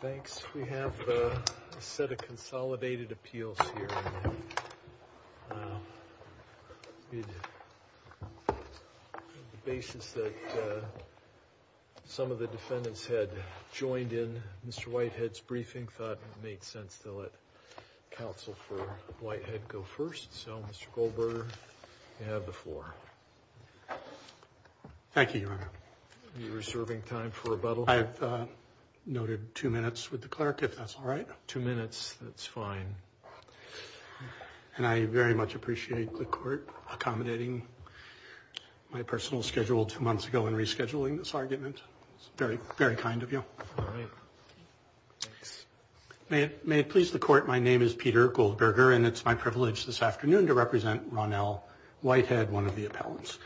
Thanks we have a set of consolidated appeals here. The basis that some of the defendants had joined in Mr. Whitehead's briefing thought it made sense to let counsel for Whitehead go first so Mr. Goldberger you have the floor. Thank you I've noted two minutes with the clerk if that's all right two minutes that's fine and I very much appreciate the court accommodating my personal schedule two months ago and rescheduling this argument very very kind of you. May it please the court my name is Peter Goldberger and it's my privilege this afternoon to represent Ronnell Whitehead one of the appellants.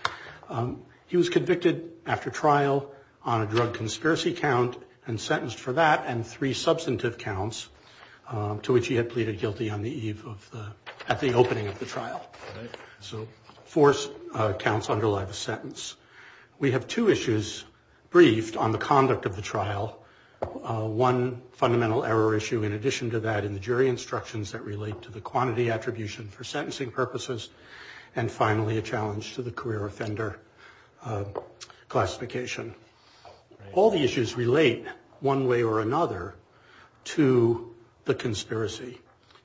He was convicted after trial on a drug conspiracy count and sentenced for that and three substantive counts to which he had pleaded guilty on the eve of the at the opening of the trial. So four counts underlie the sentence. We have two issues briefed on the conduct of the trial one fundamental error issue in addition to that in the jury instructions that relate to the quantity attribution for classification. All the issues relate one way or another to the conspiracy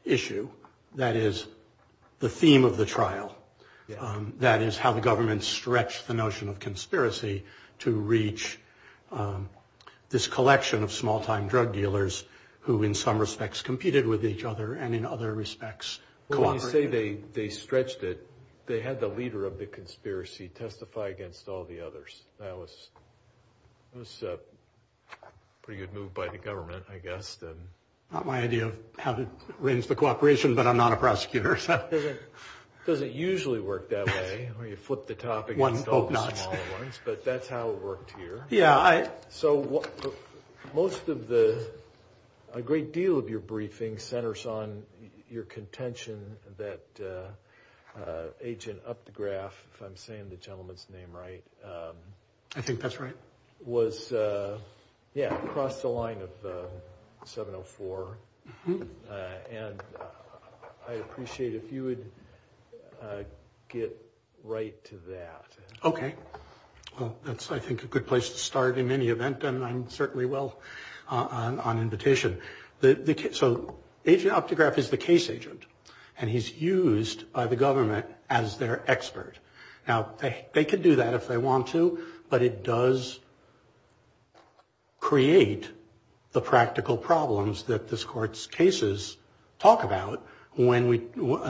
issue that is the theme of the trial that is how the government stretched the notion of conspiracy to reach this collection of small-time drug dealers who in some respects competed with each other and in other respects say they they stretched it they had the leader of the conspiracy testify against all the others. That was a pretty good move by the government I guess. Not my idea of how to arrange the cooperation but I'm not a prosecutor. It doesn't usually work that way where you flip the topic. But that's how it worked here. Yeah. So what most of the a great deal of your briefing centers on your contention that agent Optograph if I'm saying the gentleman's name right. I think that's right. Was yeah across the line of 704 and I appreciate if you would get right to that. Okay well that's I think a good place to start in any event and I'm certainly well on invitation. So agent Optograph is the case agent and he's by the government as their expert. Now they could do that if they want to but it does create the practical problems that this court's cases talk about when we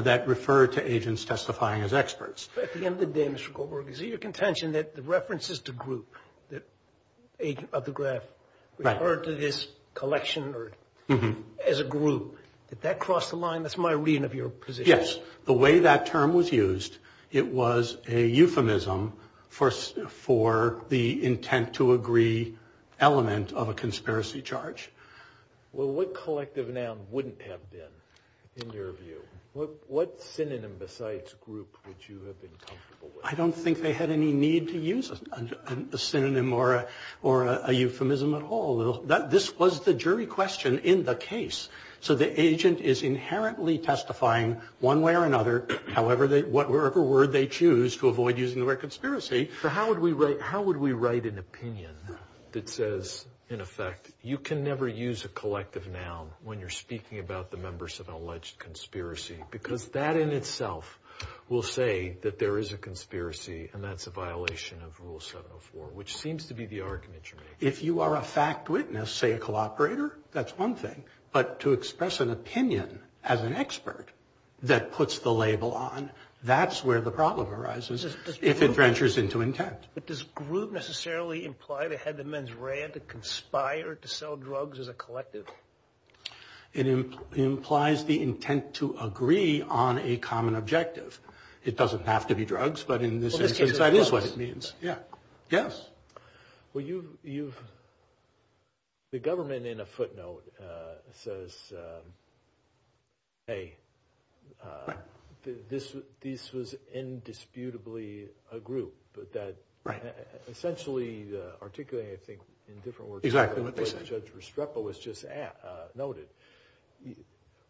that refer to agents testifying as experts. At the end of the day Mr. Goldberg is it your contention that the references to group that agent Optograph referred to this collection as a group. Did that cross the line? That's my reading of your position. Yes the way that term was used it was a euphemism for the intent to agree element of a conspiracy charge. Well what collective noun wouldn't have been in your view? What synonym besides group would you have been comfortable with? I don't think they had any need to use a synonym or a euphemism at all. This was the jury question in the case. So the agent is inherently testifying one way or another however they whatever word they choose to avoid using the word conspiracy. So how would we write an opinion that says in effect you can never use a collective noun when you're speaking about the members of an alleged conspiracy because that in itself will say that there is a conspiracy and that's a violation of rule 704 which seems to be the argument you're making. If you are a fact witness say a label operator that's one thing but to express an opinion as an expert that puts the label on that's where the problem arises if it ventures into intent. But does group necessarily imply they had the mens rea to conspire to sell drugs as a collective? It implies the intent to agree on a common objective. It doesn't have to be drugs but in this instance that is what it means. Yes. The government in a footnote says this was indisputably a group but that essentially articulating I think in different words. Exactly what they said. Judge Restrepo was just noted.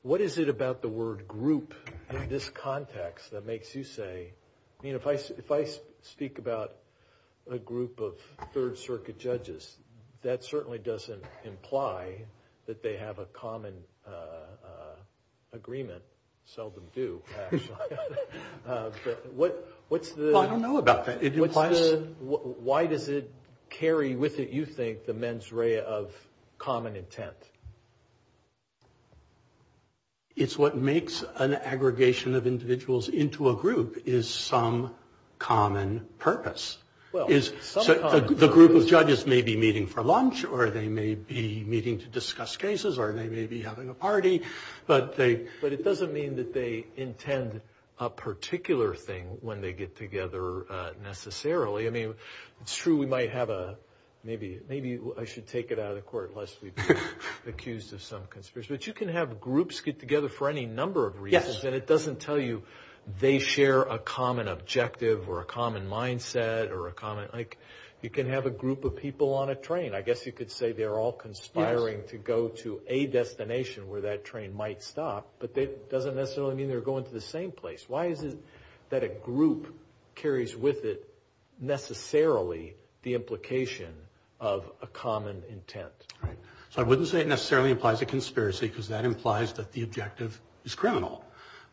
What is it about the word group in this context that makes you say I mean if I speak about a group of third circuit judges that certainly doesn't imply that they have a common agreement. Seldom do actually. I don't know about that. Why does it carry with it you think the mens rea of common intent? It's what makes an aggregation of individuals into a group is some common purpose. The group of judges may be meeting for lunch or they may be meeting to discuss cases or they may be having a party. But it doesn't mean that they intend a particular thing when they get together necessarily. I mean it's true we might have a maybe I should take it out of the court unless we've been accused of some conspiracy. But you can have groups get together for any number of reasons and it doesn't tell you they share a common objective or a common mindset or a common like you can have a group of people on a train. I guess you could say they're all conspiring to go to a destination where that train might stop but that doesn't necessarily mean they're going to the same place. Why is it that a group carries with it necessarily the implication of a common intent? So I wouldn't say it necessarily implies a conspiracy because that implies that the objective is criminal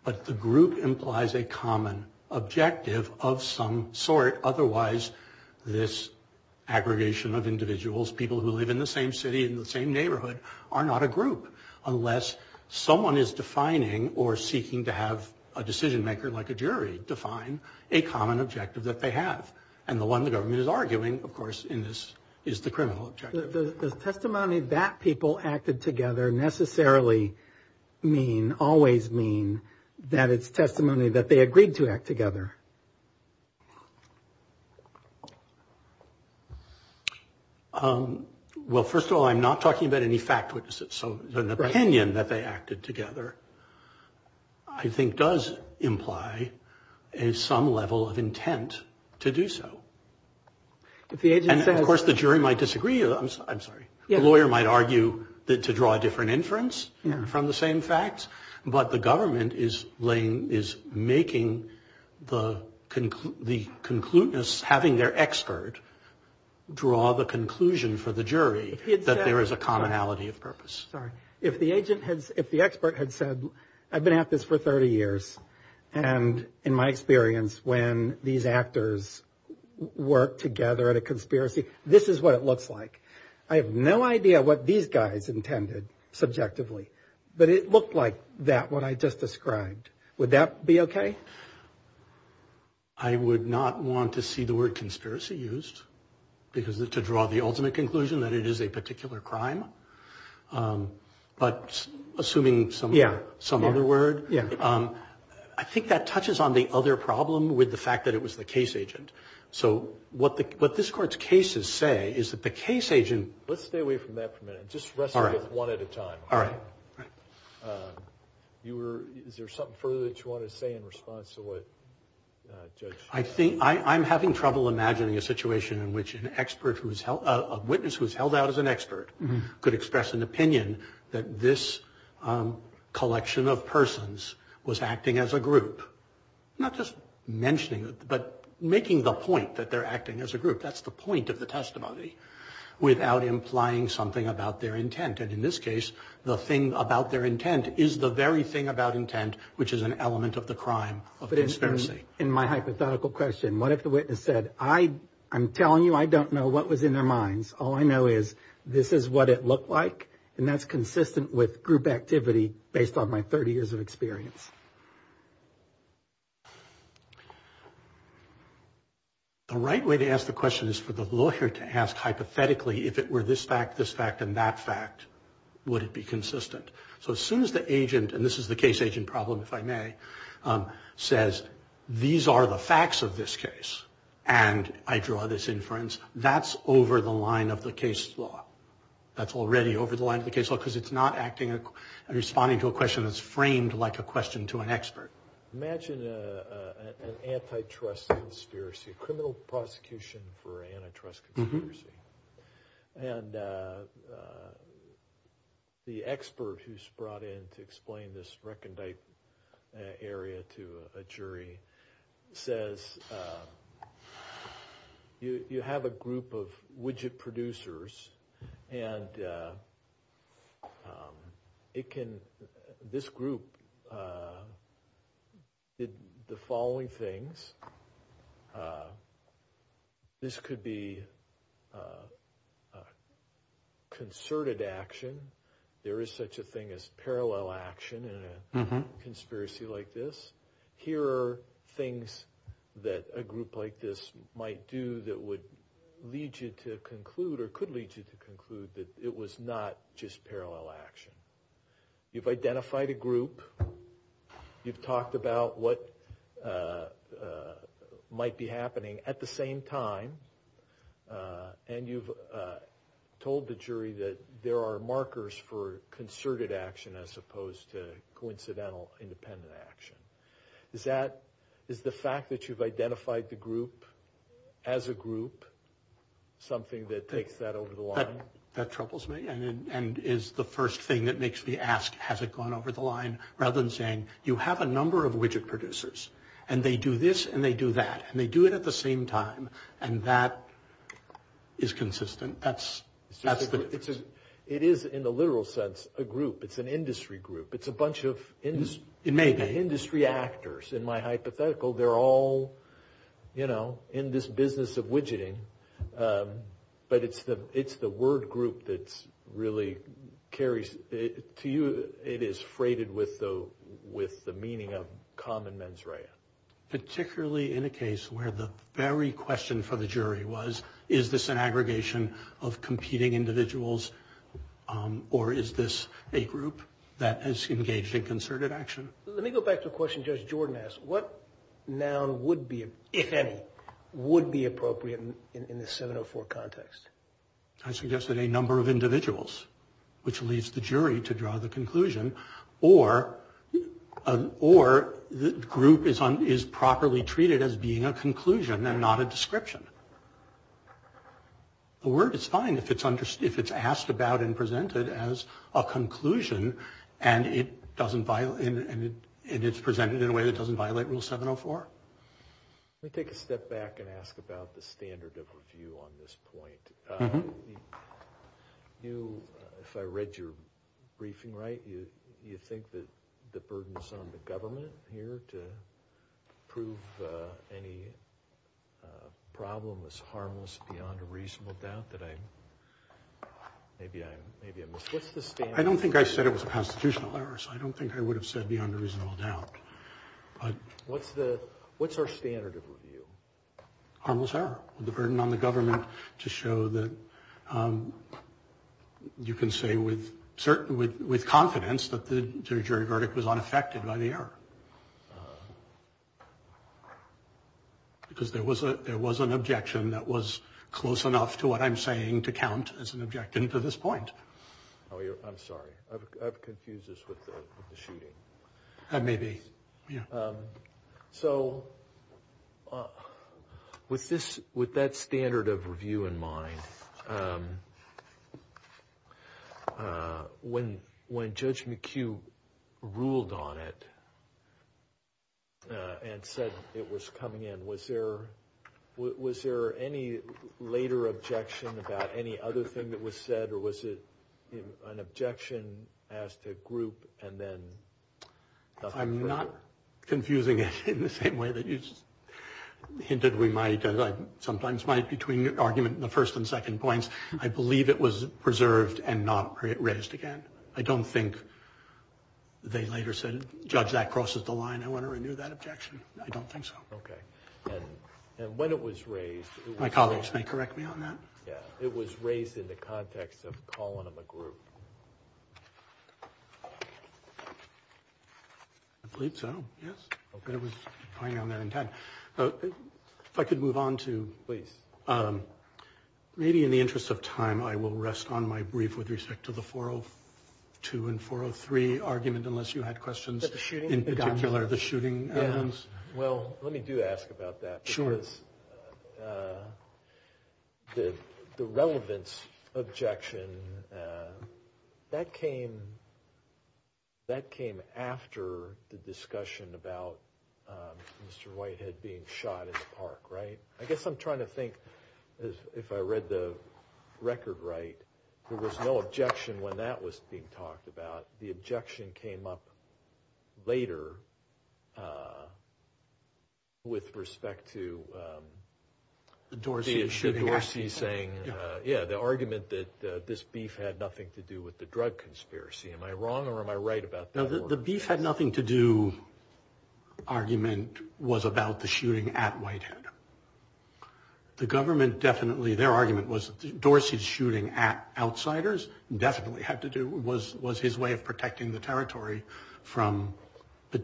but the group implies a common objective of some sort otherwise this aggregation of individuals people who live in the same city in the same neighborhood are not a group unless someone is defining or seeking to have a decision maker like a jury define a common objective that they have and the one the government is arguing of course in this is the criminal objective. The testimony that people acted together necessarily mean always mean that it's testimony that they agreed to act together. Well first of all I'm not talking about any fact which is so opinion that they acted together. I think does imply a some level of intent to do so. And of course the jury might disagree, I'm sorry, the lawyer might argue to draw a different inference from the same facts but the government is making the concluteness having their expert draw the conclusion for the jury that there is a commonality of purpose. If the agent had, if the expert had said I've been at this for 30 years and in my experience when these actors work together at a conspiracy this is what it looks like. I have no idea what these guys intended subjectively but it looked like that what I just described. Would that be okay? I would not want to see the word conspiracy used because to draw the ultimate conclusion that it is a particular crime. But assuming some other word, I think that touches on the other problem with the fact that it was the case agent. So what this court's cases say is that the case agent. Let's stay away from that for a minute, just wrestle with it one at a time. All right. You were, is there something further that you wanted to say in response to what Judge? I think, I'm having trouble imagining a situation in which an expert who's held, a witness who's held out as an expert could express an opinion that this collection of persons was acting as a group. Not just mentioning it but making the point that they're acting as a group. That's the point of the testimony without implying something about their intent. And in this case the thing about their intent is the very thing about intent which is an element of the crime of conspiracy. In my hypothetical question, what if the witness said, I, I'm telling you I don't know what was in their minds. All I know is this is what it looked like and that's consistent with group activity based on my 30 years of experience. The right way to ask the question is for the lawyer to ask hypothetically if it were this fact, this fact and that fact, would it be consistent? So as soon as the agent, and this is the case agent problem if I may, says these are the facts of this case and I draw this inference, that's over the line of the case law. That's already over the line of the case law because it's not acting, responding to a question that's framed like a question to an expert. Imagine an antitrust conspiracy, a criminal prosecution for an antitrust conspiracy. And the expert who's brought in to explain this recondite area to a jury says, you have a group of widget producers and it can, this group, did the following things. This could be concerted action. There is such a thing as parallel action in a conspiracy like this. Here are things that a group like this might do that would lead you to conclude or could lead you to conclude that it was not just parallel action. You've identified a group. You've talked about what might be happening at the same time. And you've told the jury that there are markers for concerted action as opposed to coincidental independent action. Is that, is the fact that you've identified the group as a group something that takes that over the line? That troubles me and is the first thing that makes me ask, has it gone over the line? Rather than saying, you have a number of widget producers and they do this and they do that. And they do it at the same time. And that is consistent. That's the difference. It is, in the literal sense, a group. It's an industry group. It's a bunch of industry actors. In my hypothetical, they're all, you know, in this business of widgeting. But it's the word group that's really carries, to you, it is freighted with the meaning of common mens rea. Particularly in a case where the very question for the jury was, is this an aggregation of competing individuals? Or is this a group that has engaged in concerted action? Let me go back to a question Judge Jordan asked. What noun would be, if any, would be appropriate in the 704 context? I suggested a number of individuals. Which leads the jury to draw the conclusion. Or the group is properly treated as being a conclusion and not a description. The word is fine if it's asked about and presented as a conclusion. And it's presented in a way that doesn't violate rule 704. Let me take a step back and ask about the standard of review on this point. You, if I read your briefing right, you think that the burden is on the government here to prove any problem is harmless beyond a reasonable doubt that I'm, maybe I'm, what's the standard? I don't think I said it was a constitutional error, so I don't think I would have said beyond a reasonable doubt. But what's the, what's our standard of review? Harmless error. The burden on the government to show that you can say with confidence that the jury verdict was unaffected by the error. Because there was a, there was an objection that was close enough to what I'm saying to count as an objection to this point. Oh, I'm sorry. I've confused this with the shooting. That may be. So with this, with that standard of review in mind, when Judge McHugh ruled on it and said it was coming in, was there any later objection about any other thing that was said? Or was it an objection as to group and then? I'm not confusing it in the same way that you hinted we might, as I sometimes might, between argument in the first and second points. I believe it was preserved and not raised again. I don't think they later said, Judge, that crosses the line. I want to renew that objection. I don't think so. Okay. And when it was raised. My colleagues may correct me on that. Yeah. It was raised in the context of calling them a group. I believe so. Yes. Okay. It was going on there in time. If I could move on to. Please. Maybe in the interest of time, I will rest on my brief with respect to the 402 and 403 argument, unless you had questions in particular. The shooting. Well, let me do ask about that. Sure. The relevance objection that came. That came after the discussion about Mr. Whitehead being shot in the park. Right. I guess I'm trying to think if I read the record right. There was no objection when that was being talked about. The objection came up later. With respect to the Dorsey saying, yeah, the argument that this beef had nothing to do with the drug conspiracy. Am I wrong or am I right about that? The beef had nothing to do. Argument was about the shooting at Whitehead. The government definitely their argument was Dorsey's shooting at outsiders definitely had to do was was his way of protecting the territory from the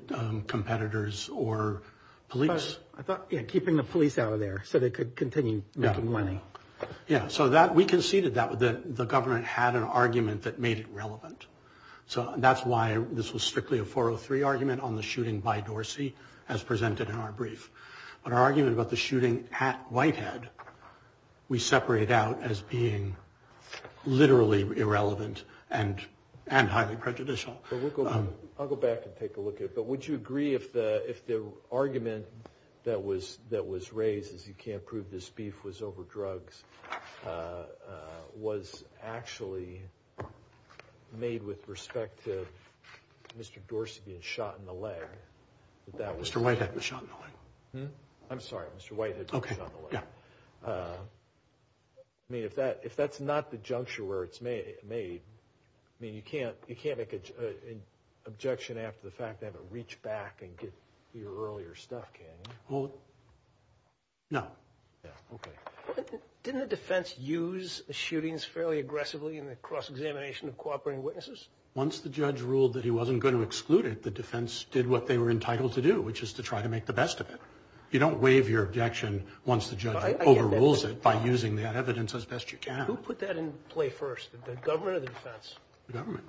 competitors or police. I thought keeping the police out of there so they could continue making money. Yeah, so that we conceded that the government had an argument that made it relevant. So that's why this was strictly a 403 argument on the shooting by Dorsey as presented in our brief. But our argument about the shooting at Whitehead. We separated out as being literally irrelevant and and highly prejudicial. I'll go back and take a look at it. But would you agree if the if the argument that was that was raised is you can't prove this beef was over drugs. Was actually made with respect to Mr. Dorsey being shot in the leg. Mr. Whitehead was shot in the leg. I'm sorry Mr. Whitehead was shot in the leg. I mean if that if that's not the juncture where it's made made. I mean you can't you can't make an objection after the fact and reach back and get your earlier stuff can you? Well no. Didn't the defense use the shootings fairly aggressively in the cross-examination of cooperating witnesses? Once the judge ruled that he wasn't going to exclude it. The defense did what they were entitled to do. Which is to try to make the best of it. You don't waive your objection once the judge overrules it by using that evidence as best you can. Who put that in play first the government or the defense? The government.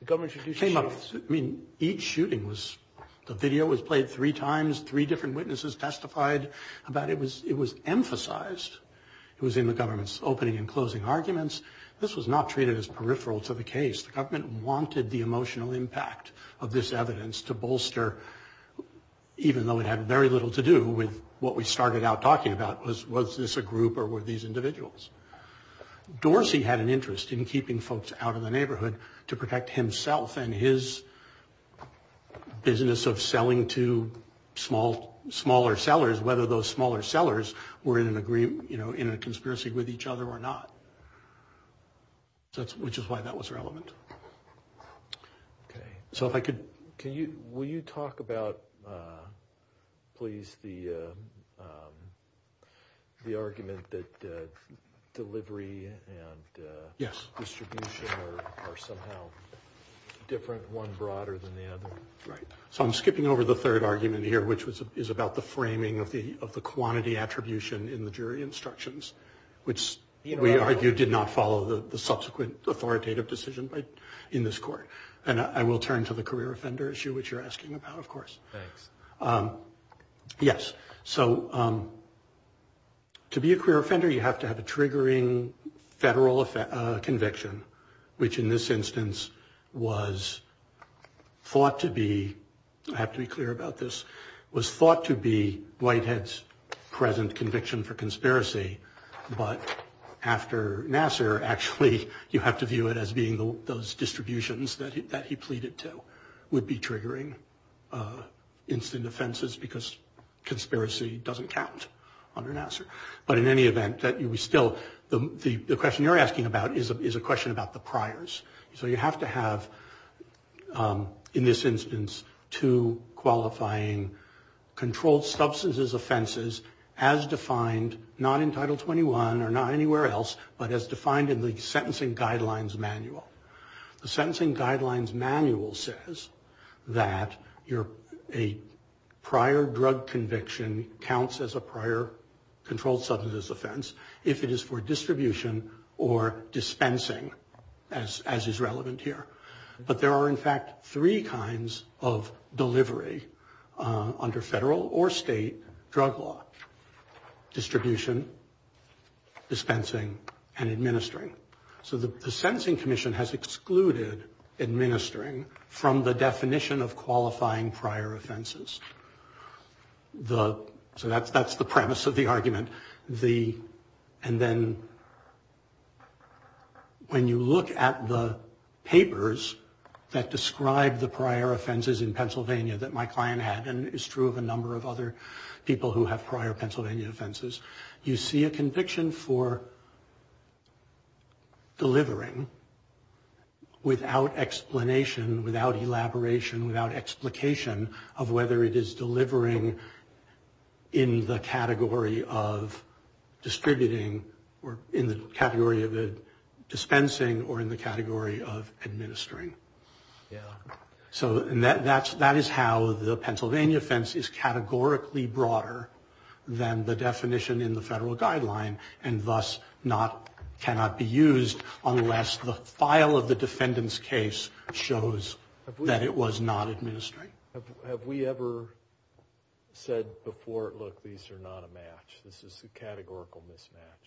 The government came up. I mean each shooting was the video was played three times. Three different witnesses testified about it was it was emphasized. It was in the government's opening and closing arguments. This was not treated as peripheral to the case. The government wanted the emotional impact of this evidence to bolster. Even though it had very little to do with what we started out talking about. Was this a group or were these individuals? Dorsey had an interest in keeping folks out of the neighborhood. To protect himself and his business of selling to small smaller sellers. Whether those smaller sellers were in an agreement you know in a conspiracy with each other or not. That's which is why that was relevant. Okay so if I could. Can you will you talk about uh please the um the argument that uh delivery and uh. Yes. Distribution are somehow different one broader than the other. Right so I'm skipping over the third argument here. Which was is about the framing of the of the quantity attribution in the jury instructions. Which we argued did not follow the subsequent authoritative decision. In this court and I will turn to the career offender issue which you're asking about of course. Yes so um. To be a career offender you have to have a triggering federal uh conviction. Which in this instance was thought to be. I have to be clear about this was thought to be. Whitehead's present conviction for conspiracy. But after Nassar actually you have to view it as being those distributions that he pleaded to. Would be triggering uh instant offenses because conspiracy doesn't count under Nassar. But in any event that you still the the question you're asking about is a question about the priors. So you have to have um in this instance. Two qualifying controlled substances offenses. As defined not in title 21 or not anywhere else. But as defined in the sentencing guidelines manual. The sentencing guidelines manual says. That you're a prior drug conviction counts as a prior. Controlled substance offense if it is for distribution. Or dispensing as as is relevant here. But there are in fact three kinds of delivery. Under federal or state drug law. Distribution dispensing and administering. So the sentencing commission has excluded. Administering from the definition of qualifying prior offenses. The so that's that's the premise of the argument the and then. When you look at the papers. That describe the prior offenses in Pennsylvania that my client had. And is true of a number of other people who have prior Pennsylvania offenses. You see a conviction for. Delivering without explanation. Without elaboration. Without explication of whether it is delivering. In the category of distributing or in the category of dispensing. Or in the category of administering yeah. So that that's that is how the Pennsylvania offense is categorically broader. Than the definition in the federal guideline and thus not cannot be used. Unless the file of the defendant's case shows that it was not administering. Have we ever said before look these are not a match. This is a categorical mismatch.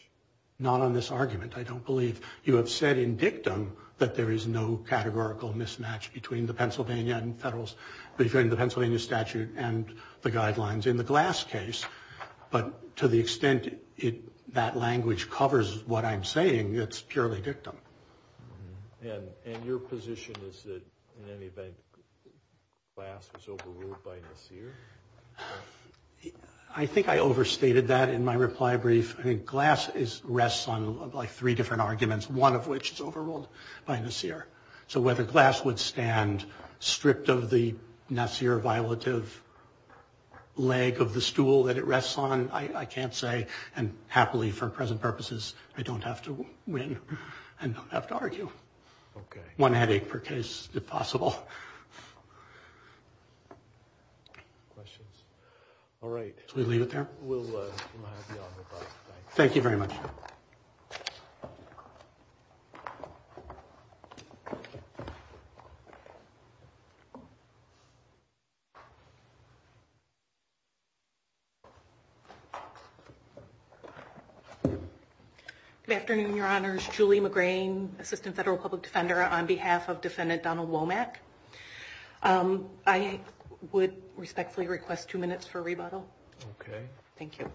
Not on this argument. I don't believe you have said in dictum. That there is no categorical mismatch between the Pennsylvania and federals. Between the Pennsylvania statute and the guidelines in the glass case. But to the extent it that language covers what I'm saying it's purely dictum. And your position is that in any event. Glass was overruled by Nassir. I think I overstated that in my reply brief. I think glass is rests on like three different arguments. One of which is overruled by Nassir. So whether glass would stand stripped of the Nassir violative. Leg of the stool that it rests on. I can't say and happily for present purposes. I don't have to win. I don't have to argue. One headache per case if possible. Questions? All right. Should we leave it there? We'll have you on with us. Thank you very much. Thank you. Good afternoon, your honors. Julie McGrain, assistant federal public defender on behalf of defendant Donald Womack. I would respectfully request two minutes for rebuttal. Okay. Thank you.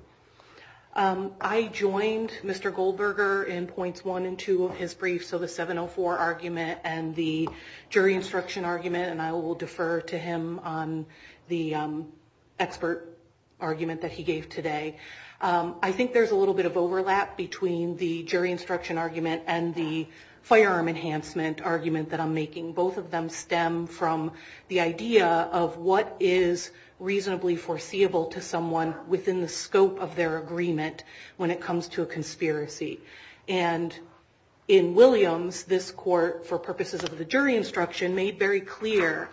I joined Mr. Goldberger in points one and two of his brief. So the 704 argument and the jury instruction argument. And I will defer to him on the expert argument that he gave today. I think there's a little bit of overlap between the jury instruction argument. And the firearm enhancement argument that I'm making. Both of them stem from the idea of what is reasonably foreseeable to someone. Within the scope of their agreement. When it comes to a conspiracy. And in Williams, this court for purposes of the jury instruction made very clear.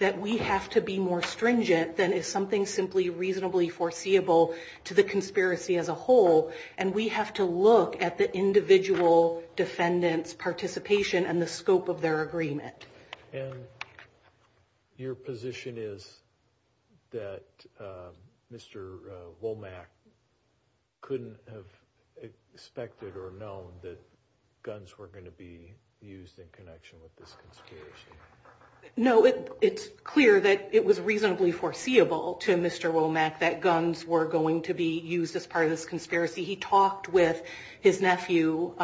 That we have to be more stringent than is something simply reasonably foreseeable. To the conspiracy as a whole. And we have to look at the individual defendant's participation. And the scope of their agreement. And your position is that Mr. Womack couldn't have expected or known. That guns were going to be used in connection with this conspiracy. No, it's clear that it was reasonably foreseeable to Mr. Womack. That guns were going to be used as part of this conspiracy. He talked with his nephew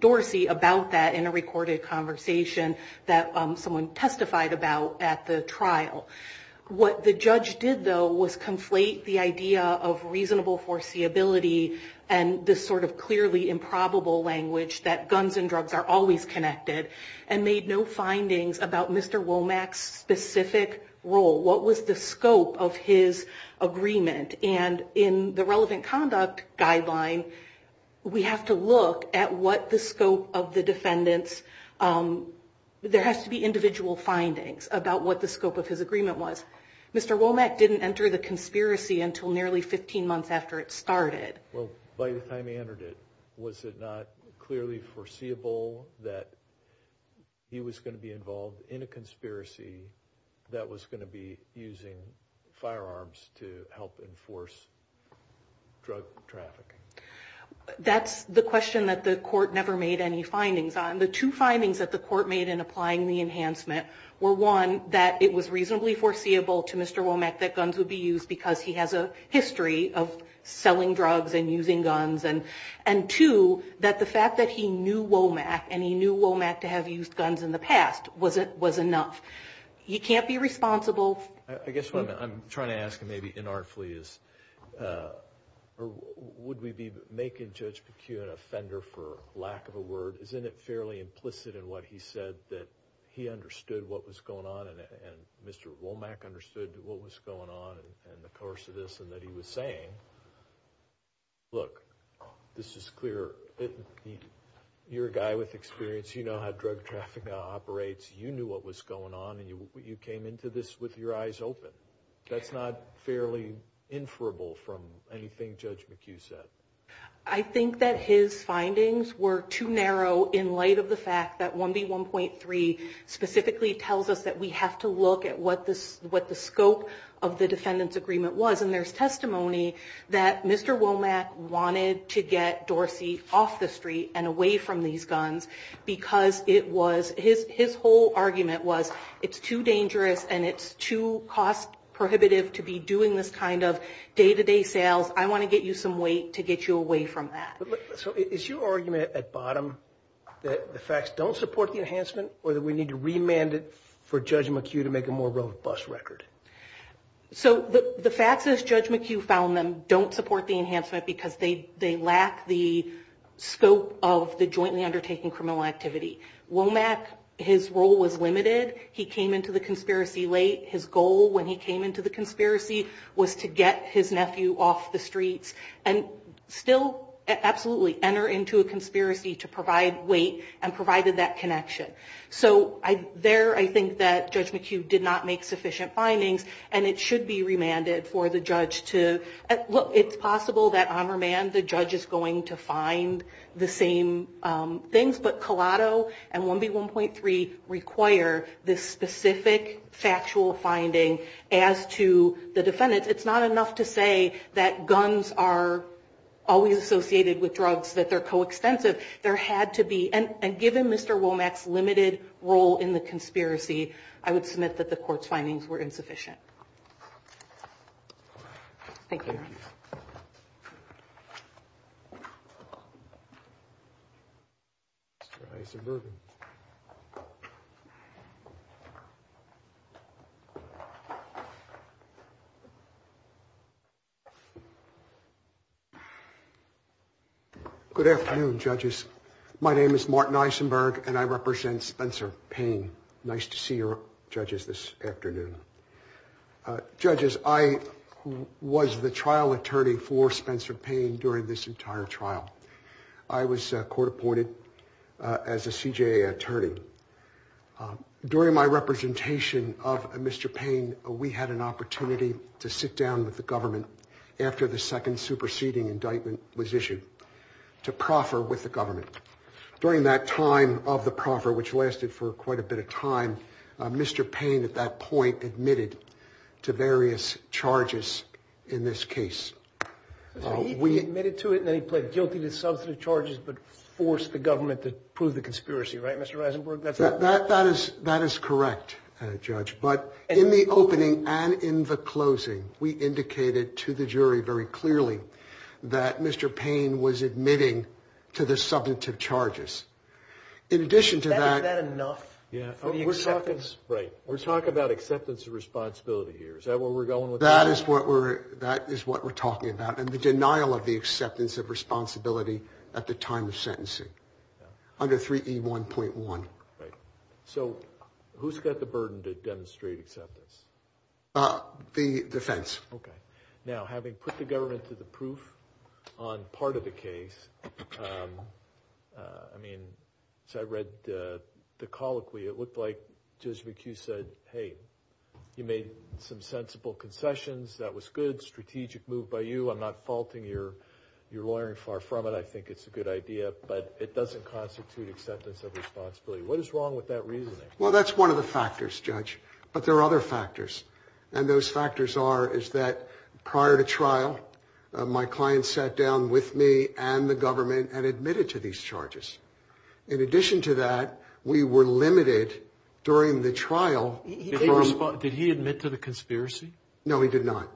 Dorsey about that in a recorded conversation. That someone testified about at the trial. What the judge did though. Was conflate the idea of reasonable foreseeability. And this sort of clearly improbable language. That guns and drugs are always connected. And made no findings about Mr. Womack's specific role. What was the scope of his agreement? And in the relevant conduct guideline. We have to look at what the scope of the defendant's. There has to be individual findings about what the scope of his agreement was. Mr. Womack didn't enter the conspiracy until nearly 15 months after it started. Well by the time he entered it. Was it not clearly foreseeable that he was going to be involved in a conspiracy. That was going to be using firearms to help enforce drug trafficking. That's the question that the court never made any findings on. The two findings that the court made in applying the enhancement. Were one. That it was reasonably foreseeable to Mr. Womack. That guns would be used. Because he has a history of selling drugs and using guns. And two. That the fact that he knew Womack. And he knew Womack to have used guns in the past. Was it was enough. He can't be responsible. I guess what I'm trying to ask him. Maybe inartfully is. Or would we be making Judge McKeown an offender for lack of a word. Isn't it fairly implicit in what he said. That he understood what was going on. And Mr. Womack understood what was going on in the course of this. And that he was saying. Look this is clear. You're a guy with experience. You know how drug traffic operates. You knew what was going on. And you came into this with your eyes open. That's not fairly inferable from anything Judge McKeown said. I think that his findings were too narrow. In light of the fact that 1B1.3 specifically tells us. That we have to look at what the scope of the defendant's agreement was. And there's testimony. That Mr. Womack wanted to get Dorsey off the street. And away from these guns. Because it was. His whole argument was. It's too dangerous. And it's too cost prohibitive. To be doing this kind of day-to-day sales. I want to get you some weight. To get you away from that. So is your argument at bottom. That the facts don't support the enhancement. Or that we need to remand it. For Judge McKeown to make a more robust record. So the facts as Judge McKeown found them. Don't support the enhancement. Because they lack the scope of the jointly undertaking criminal activity. Womack his role was limited. He came into the conspiracy late. His goal when he came into the conspiracy. Was to get his nephew off the streets. And still absolutely enter into a conspiracy. To provide weight. And provided that connection. So there I think that Judge McKeown did not make sufficient findings. And it should be remanded for the judge to. It's possible that on remand. The judge is going to find the same things. But Colato and 1B1.3 require this specific factual finding. As to the defendants. It's not enough to say that guns are always associated with drugs. That they're co-extensive. There had to be. And given Mr. Womack's limited role in the conspiracy. I would submit that the court's findings were insufficient. Thank you. Isenberg. Good afternoon, judges. My name is Martin Isenberg. And I represent Spencer Payne. Nice to see your judges this afternoon. Judges, I was the trial attorney for Spencer Payne during this entire trial. I was court appointed as a CJA attorney. During my representation of Mr. Payne. We had an opportunity to sit down with the government. After the second superseding indictment was issued. To proffer with the government. During that time of the proffer. Which lasted for quite a bit of time. Mr. Payne at that point admitted to various charges in this case. He admitted to it. Then he pled guilty to substantive charges. But forced the government to prove the conspiracy. Right, Mr. Isenberg? That is correct, Judge. But in the opening and in the closing. We indicated to the jury very clearly. That Mr. Payne was admitting to the substantive charges. In addition to that. Is that enough? Yeah. We're talking about acceptance of responsibility here. Is that where we're going with that? That is what we're talking about. And the denial of the acceptance of responsibility. At the time of sentencing. Under 3E1.1. So who's got the burden to demonstrate acceptance? The defense. Okay. Now having put the government to the proof. On part of the case. I mean, I read the colloquy. It looked like Judge McHugh said. Hey, you made some sensible concessions. That was good. Strategic move by you. I'm not faulting your lawyering far from it. I think it's a good idea. But it doesn't constitute acceptance of responsibility. What is wrong with that reasoning? Well, that's one of the factors, Judge. But there are other factors. And those factors are. Is that prior to trial. My client sat down with me and the government. And admitted to these charges. In addition to that. We were limited during the trial. Did he admit to the conspiracy? No, he did not.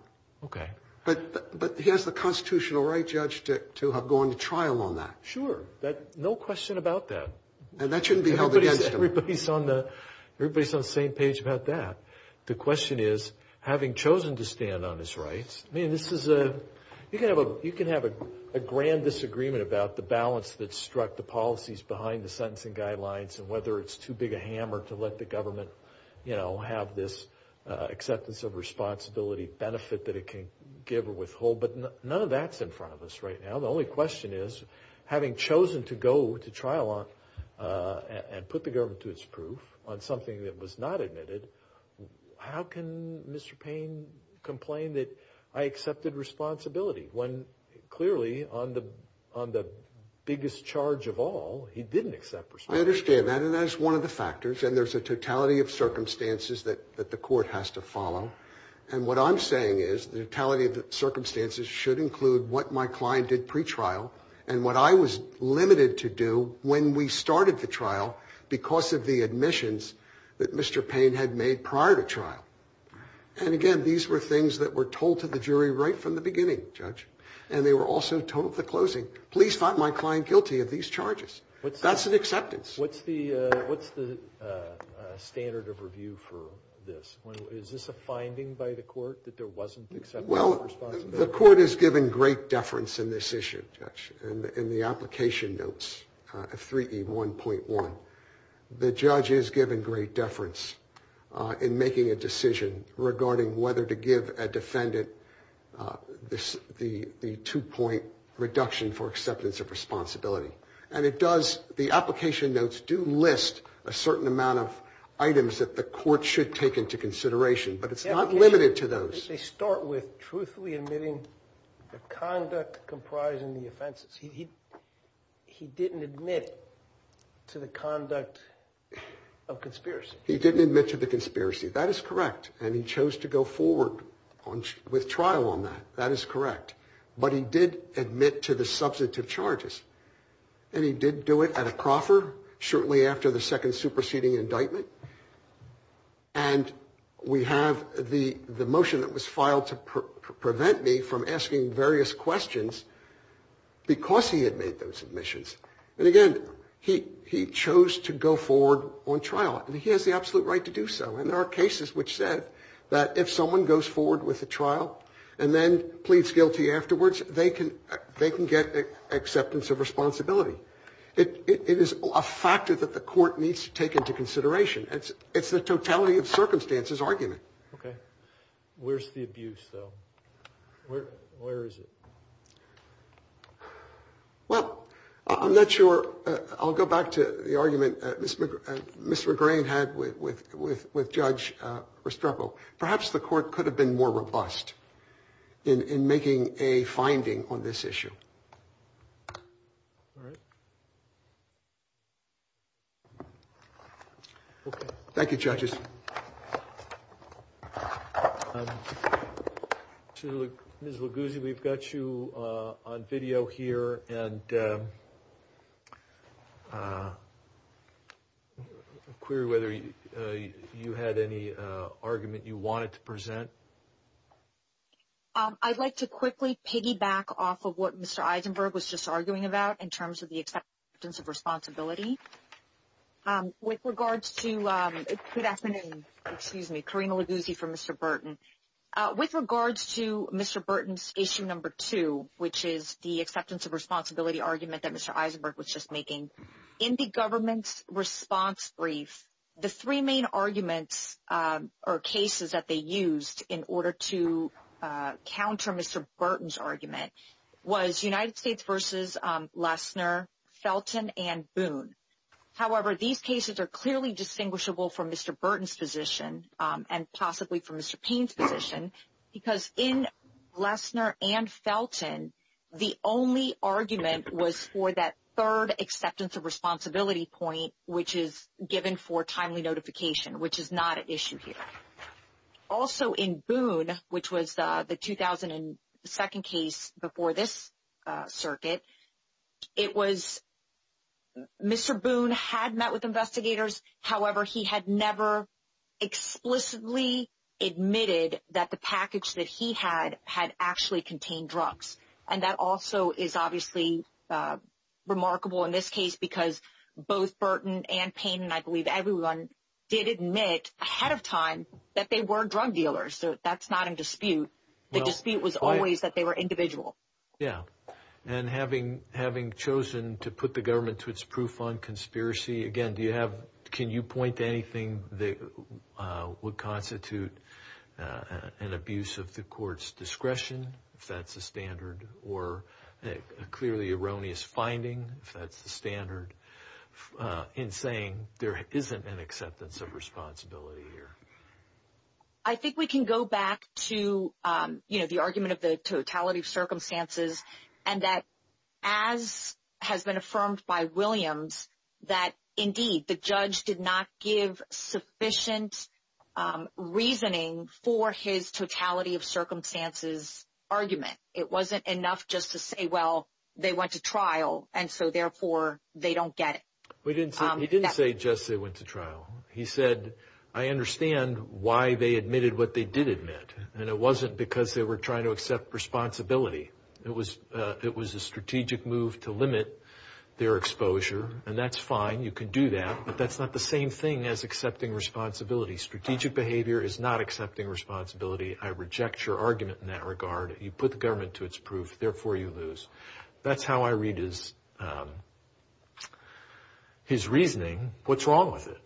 Okay. But he has the constitutional right, Judge. To have gone to trial on that. Sure. No question about that. And that shouldn't be held against him. Everybody's on the same page about that. The question is. Having chosen to stand on his rights. I mean, this is a. You can have a grand disagreement. About the balance that struck the policies. Behind the sentencing guidelines. And whether it's too big a hammer. To let the government, you know. Have this acceptance of responsibility. Benefit that it can give or withhold. But none of that's in front of us right now. The only question is. Having chosen to go to trial on. And put the government to its proof. On something that was not admitted. How can Mr. Payne complain that. I accepted responsibility. When clearly on the biggest charge of all. He didn't accept responsibility. I understand that. And that is one of the factors. And there's a totality of circumstances. That the court has to follow. And what I'm saying is. The totality of the circumstances. Should include what my client did pre-trial. And what I was limited to do. When we started the trial. Because of the admissions. That Mr. Payne had made prior to trial. And again. These were things that were told to the jury. Right from the beginning, Judge. And they were also told at the closing. Police found my client guilty of these charges. That's an acceptance. What's the standard of review for this? Is this a finding by the court? That there wasn't acceptance of responsibility? The court has given great deference in this issue. In the application notes. 3E1.1. The judge is given great deference. In making a decision. Regarding whether to give a defendant. The two-point reduction for acceptance of responsibility. And it does. The application notes do list. A certain amount of items. That the court should take into consideration. But it's not limited to those. They start with truthfully admitting. The conduct comprising the offenses. He didn't admit. To the conduct of conspiracy. He didn't admit to the conspiracy. That is correct. And he chose to go forward. With trial on that. That is correct. But he did admit to the substantive charges. And he did do it at a proffer. Shortly after the second superseding indictment. And we have the motion that was filed. To prevent me from asking various questions. Because he had made those admissions. And again. He chose to go forward on trial. And he has the absolute right to do so. And there are cases which said. That if someone goes forward with a trial. And then pleads guilty afterwards. They can get acceptance of responsibility. It is a factor that the court needs to take into consideration. It's the totality of circumstances argument. Okay. Where's the abuse though? Where is it? Well, I'm not sure. I'll go back to the argument. Mr. Greene had with Judge Restrepo. Perhaps the court could have been more robust. In making a finding on this issue. All right. Okay. Thank you judges. Ms. Luguzi. We've got you on video here. And query whether you had any argument. You wanted to present. I'd like to quickly piggyback off. Of what Mr. Eisenberg was just arguing about. In terms of the acceptance of responsibility. With regards to. Good afternoon. Excuse me. Karina Luguzi for Mr. Burton. With regards to Mr. Burton's issue number two. Which is the acceptance of responsibility argument. That Mr. Eisenberg was just making. In the government's response brief. The three main arguments. Or cases that they used. In order to counter Mr. Burton's argument. Was United States versus Lesnar. Felton and Boone. However, these cases are clearly distinguishable. From Mr. Burton's position. And possibly from Mr. Payne's position. Because in Lesnar and Felton. The only argument was for that. Third acceptance of responsibility point. Which is given for timely notification. Which is not an issue here. Also in Boone. Which was the 2002nd case. Before this circuit. It was. Mr. Boone had met with investigators. However, he had never. Explicitly admitted. That the package that he had. Had actually contained drugs. And that also is obviously. Remarkable in this case. Because both Burton and Payne. I believe everyone did admit. Ahead of time. That they were drug dealers. So that's not in dispute. The dispute was always. That they were individual. Yeah and having chosen. To put the government. To its proof on conspiracy. Again do you have. Can you point to anything. That would constitute. An abuse of the court's discretion. If that's the standard. Or a clearly erroneous finding. If that's the standard. In saying there isn't. An acceptance of responsibility here. I think we can go back. To you know the argument. Of the totality of circumstances. And that as has been. Affirmed by Williams. That indeed the judge. Did not give sufficient reasoning. For his totality. Of circumstances argument. It wasn't enough just to say. Well they went to trial. And so therefore. They don't get it. We didn't. He didn't say just. They went to trial. He said I understand. Why they admitted. What they did admit. And it wasn't. Because they were trying. To accept responsibility. It was. It was a strategic move. To limit their exposure. And that's fine. You can do that. But that's not the same thing. As accepting responsibility. Strategic behavior. Is not accepting responsibility. I reject your argument. In that regard. You put the government. To its proof. Therefore you lose. That's how I read. His reasoning. What's wrong with it.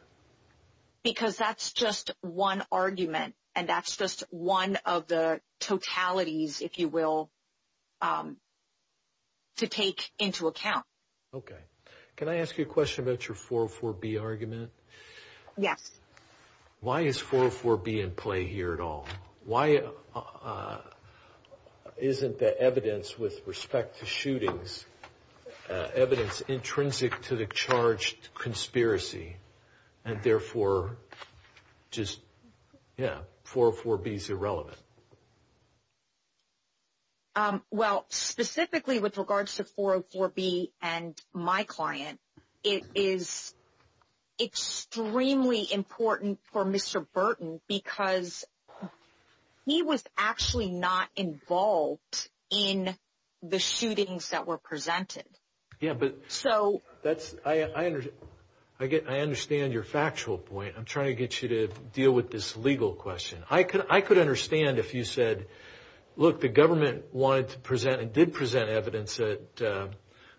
Because that's just. One argument. And that's just. One of the totalities. If you will. To take into account. Okay. Can I ask you a question. About your 404b argument. Yes. Why is 404b. In play here at all. Why. Isn't the evidence. With respect to shootings. Evidence. Intrinsic. To the charged. Conspiracy. And therefore. Just. Yeah. 404b is irrelevant. Well. Specifically. With regards to 404b. And my client. It is. Extremely important. For Mr Burton. Because. He was actually. Not involved. In the shootings. That were presented. Yeah. But. So. That's. I understand. I get. I understand. Your factual point. I'm trying to get you to. Deal with this legal question. I could. I could understand. If you said. Look. The government. Wanted to present. And did present. Evidence that.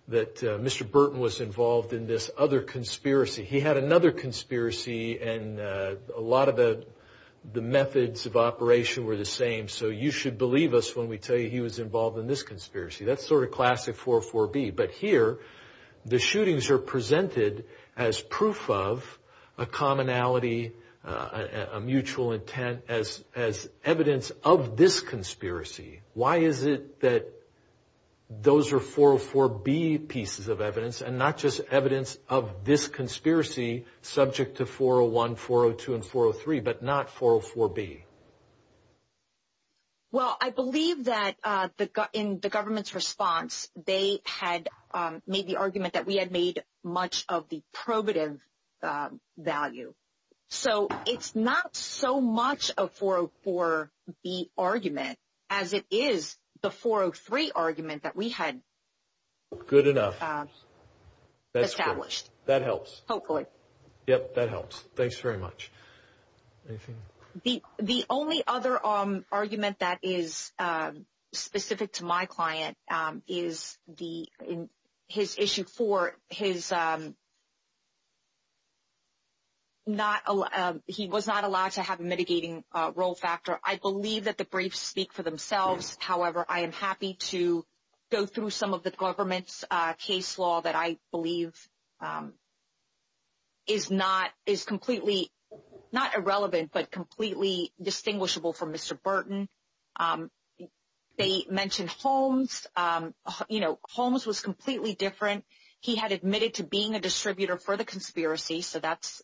That Mr Burton. Was involved in this. Other conspiracy. He had another conspiracy. And a lot of the. The methods of operation. Were the same. So you should believe us. When we tell you. He was involved. In this conspiracy. That's sort of classic. 404b. But here. The shootings. Are presented. As proof of. A commonality. A mutual intent. As as evidence. Of this conspiracy. Why is it. That. Those are 404b. Pieces of evidence. And not just evidence. Of this conspiracy. Subject to 401. 402. And 403. But not 404b. Well I believe that. In the government's response. They had. Made the argument. That we had made. Much of the probative. Value. So it's not. So much. Of 404b. Argument. As it is. The 403 argument. That we had. Good enough. Established. That helps. Hopefully. Yep that helps. Thanks very much. Anything. The the only other. Argument that is. Specific to my client. Is the. His issue for. His. Not. He was not allowed. To have a mitigating. Role factor. I believe that the briefs. Speak for themselves. However I am happy to. Go through some of the. Government's case law. That I believe. Is not. Is completely. Not irrelevant. But completely. Distinguishable from. Mr Burton. They mentioned. Holmes. You know. Holmes was completely. Different. He had admitted to being a. Distributor for the conspiracy. So that's.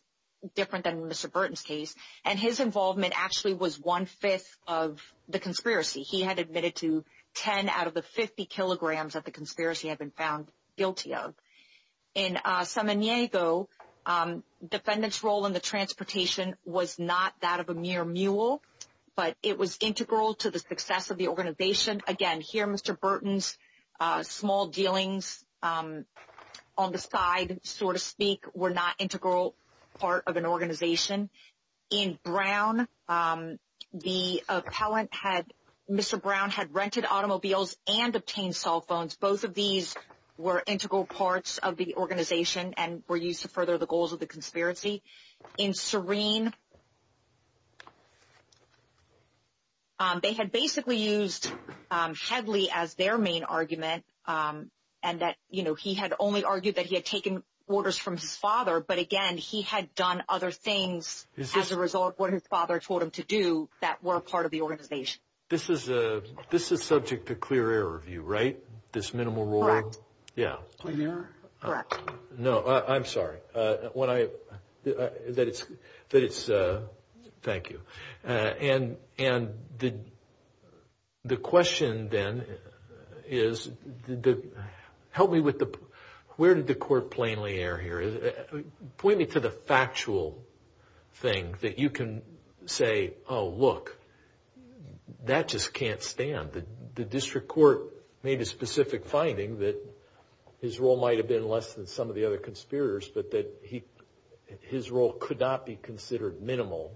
Different than Mr Burton's case. And his involvement. Actually was one fifth. Of the conspiracy. He had admitted to. 10 out of the 50 kilograms. That the conspiracy had been found. Guilty of. In. San Diego. Defendants role in the transportation. Was not that of a mere mule. But it was integral. To the success of the organization. Again here. Mr Burton's. Small dealings. On the side. Sort of speak. Were not integral. Part of an organization. In Brown. The appellant had. Mr Brown had rented automobiles. And obtained cell phones. Both of these. Were integral parts. Of the organization. And were used to further. The goals of the conspiracy. In serene. They had basically used. Hadley as their main argument. And that you know. He had only argued. That he had taken. Orders from his father. But again. He had done other things. As a result. What his father told him to do. That were part of the organization. This is a. This is subject. To clear air of you right. This minimal role. Yeah. No I'm sorry. When I. That it's. That it's. Thank you. And. And the. The question then. Is. Help me with the. Where did the court. Plainly air here. Point me to the factual. Thing that you can. Say. Oh look. That just can't stand. The district court. Made a specific finding. That. His role might have been. Less than some of the other. Conspirators. But that he. His role could not be. Considered minimal.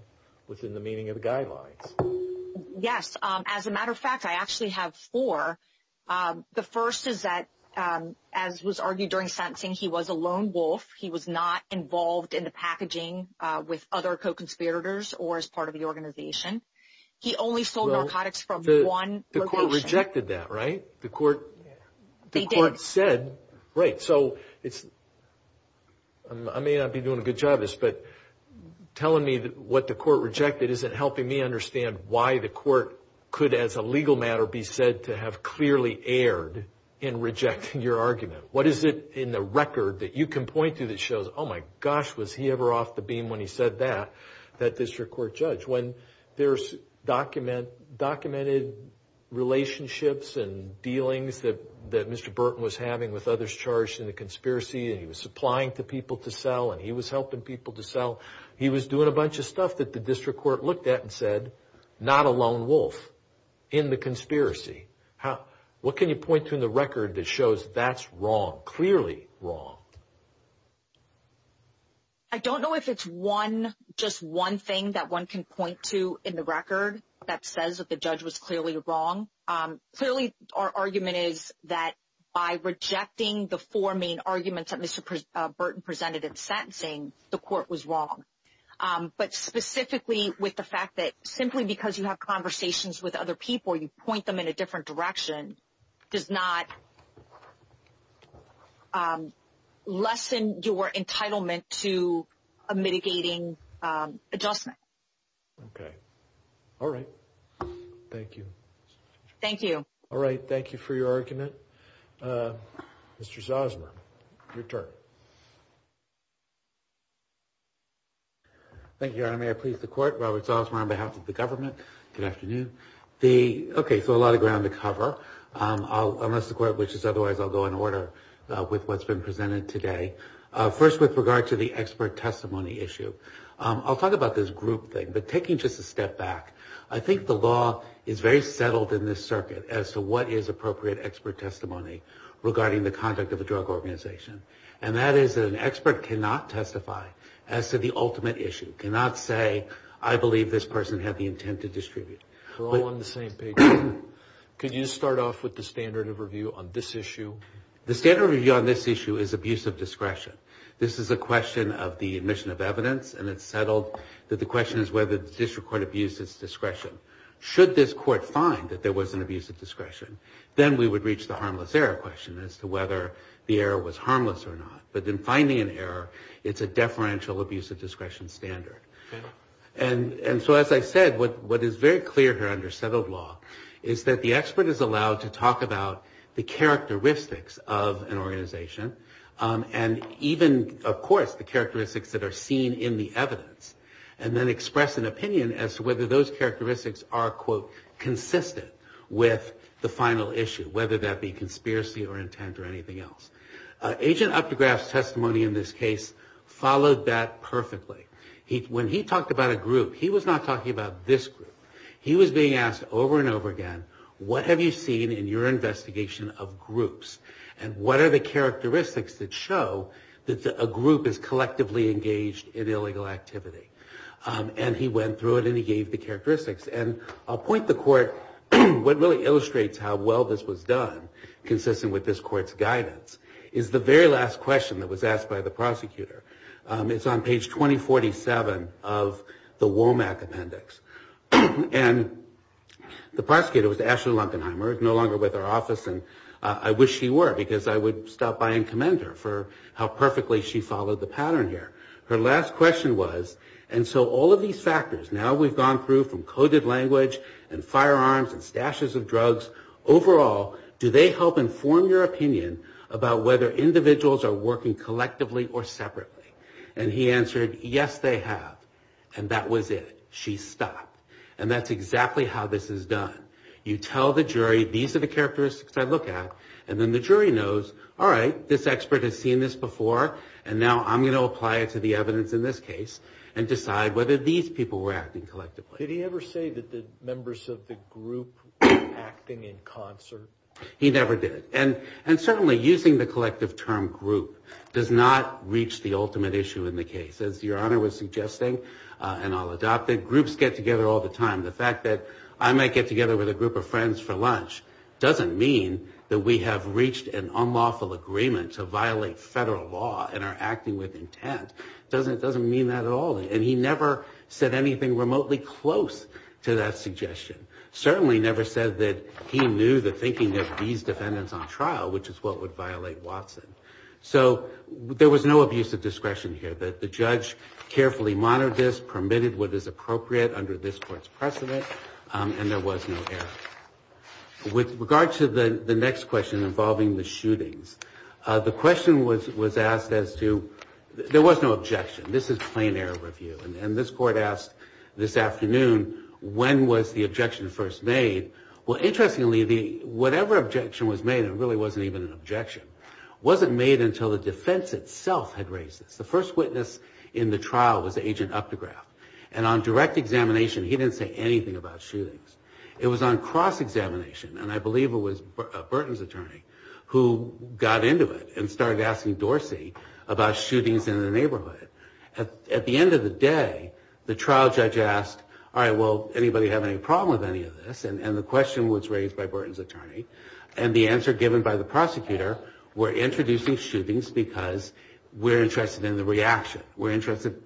Within the meaning of the guidelines. Yes. As a matter of fact. I actually have four. The first is that. As was argued during sentencing. He was a lone wolf. He was not. Involved in the packaging. With other co-conspirators. Or as part of the organization. He only sold narcotics. From the one. The court rejected that right. The court. The court said. Right so. It's. I may not be doing a good job. This but. Telling me that. What the court rejected. Isn't helping me understand. Why the court. Could as a legal matter. Be said to have. Clearly aired. In rejecting your argument. What is it. In the record. That you can point to. That shows. Oh my gosh. Was he ever off the beam. When he said that. That district court judge. When. There's. Document. Documented. Relationships and. Dealings that. That Mr. Burton was having. With others. Charged in the conspiracy. And he was supplying. To people to sell. And he was helping people to sell. He was doing a bunch of stuff. That the district court. Looked at and said. Not a lone wolf. In the conspiracy. How. What can you point to. In the record. That shows. That's wrong. Clearly wrong. I don't know if it's one. Just one thing. That one can point to. In the record. That says that the judge. Was clearly wrong. Clearly. Our argument is. That. By rejecting. The four main arguments. That Mr. Burton. Presented in sentencing. The court was wrong. But specifically. With the fact that. Simply because. You have conversations. With other people. You point them. In a different direction. Does not. Lessen your entitlement. To a mitigating. Adjustment. Okay. All right. Thank you. Thank you. All right. Thank you for your argument. Mr. Zosmer. Your turn. Thank you. And I may please the court. Robert Zosmer. On behalf of the government. Good afternoon. The okay. So a lot of ground to cover. Unless the court wishes. Otherwise I'll go in order. With what's been presented today. First with regard to the expert. Testimony issue. I'll talk about this group thing. But taking just a step back. I think the law. Is very settled in this circuit. As to what is appropriate. Expert testimony. Regarding the conduct. Of a drug organization. And that is an expert. Cannot testify. As to the ultimate issue. Cannot say. I believe this person. Had the intent to distribute. We're all on the same page. Could you start off. With the standard of review. On this issue. The standard review. On this issue. Is abuse of discretion. This is a question. Of the admission of evidence. And it's settled. That the question. Is whether the district court. Abuse its discretion. Should this court find. That there was an abuse of discretion. Then we would reach. The harmless error question. As to whether. The error was harmless or not. But then finding an error. It's a deferential abuse. Of discretion standard. And so as I said. What is very clear here. Under settled law. Is that the expert. Is allowed to talk about. The characteristics. Of an organization. And even of course. The characteristics. That are seen in the evidence. And then express an opinion. As to whether those characteristics. Are quote consistent. With the final issue. Whether that be conspiracy. Or intent or anything else. Agent Updegraff's testimony. In this case. Followed that perfectly. When he talked about a group. He was not talking. About this group. He was being asked. Over and over again. What have you seen. In your investigation. Of groups. And what are the characteristics. That show. That a group. Is collectively engaged. In illegal activity. And he went through it. And he gave the characteristics. And I'll point the court. What really illustrates. How well this was done. Consistent with this court's guidance. Is the very last question. That was asked by the prosecutor. It's on page 2047. Of the Womack appendix. And the prosecutor. Was Ashley Lundenheimer. No longer with our office. And I wish she were. Because I would stop by. And commend her. For how perfectly. She followed the pattern here. Her last question was. And so all of these factors. Now we've gone through. From coded language. And firearms. And stashes of drugs. Overall. Do they help inform your opinion. About whether individuals. Are working collectively. Or separately. And he answered. Yes they have. And that was it. She stopped. And that's exactly. How this is done. You tell the jury. These are the characteristics. I look at. And then the jury knows. All right. This expert has seen this before. And now I'm going to apply it. To the evidence in this case. And decide whether these people. Were acting collectively. Did he ever say. That the members of the group. Acting in concert. He never did. And certainly using. The collective term group. Does not reach. The ultimate issue. In the case. As your honor was suggesting. And I'll adopt it. Groups get together all the time. The fact that. I might get together. With a group of friends. For lunch. Doesn't mean. That we have reached. An unlawful agreement. To violate federal law. And are acting with intent. Doesn't it doesn't mean. That at all. And he never. Said anything remotely. Close to that suggestion. Certainly never said. That he knew. The thinking of these. Defendants on trial. Which is what would violate. Watson. So there was no. Abuse of discretion here. That the judge. Carefully monitored. This permitted. What is appropriate. Under this court's precedent. And there was no error. With regard to the. The next question. Involving the shootings. The question was. Was asked as to. There was no objection. This is plain error review. And this court asked. This afternoon. When was the objection. First made. Well interestingly. The whatever objection. Was made and really. Wasn't even an objection. Wasn't made until. The defense itself. Had raised this. The first witness. In the trial. Was agent. Up the graph. And on direct examination. He didn't say anything. About shootings. It was on cross examination. And I believe it was. Burton's attorney. Who got into it. And started asking Dorsey. About shootings in the neighborhood. At the end of the day. The trial judge asked. All right well. Anybody have any problem. With any of this. And the question was raised. By Burton's attorney. And the answer given. By the prosecutor. We're introducing shootings. Because we're interested. In the reaction. We're interested.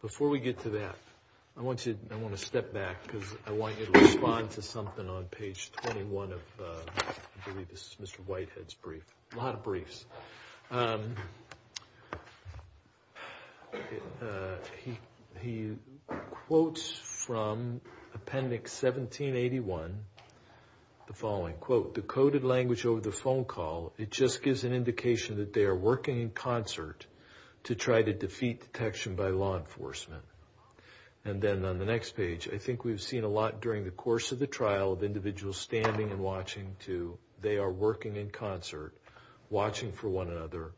Before we get to that. I want you. I want to step back. Because I want you to respond. To something on page 21. Of I believe this is. Mr Whitehead's brief. A lot of briefs. He quotes from. Appendix 1781. The following quote. Decoded language over the phone call. It just gives an indication. That they are working in concert. To try to defeat detection. By law enforcement. And then on the next page. I think we've seen a lot. During the course of the trial. Of individuals standing. And watching too. They are working in concert. Watching for one another.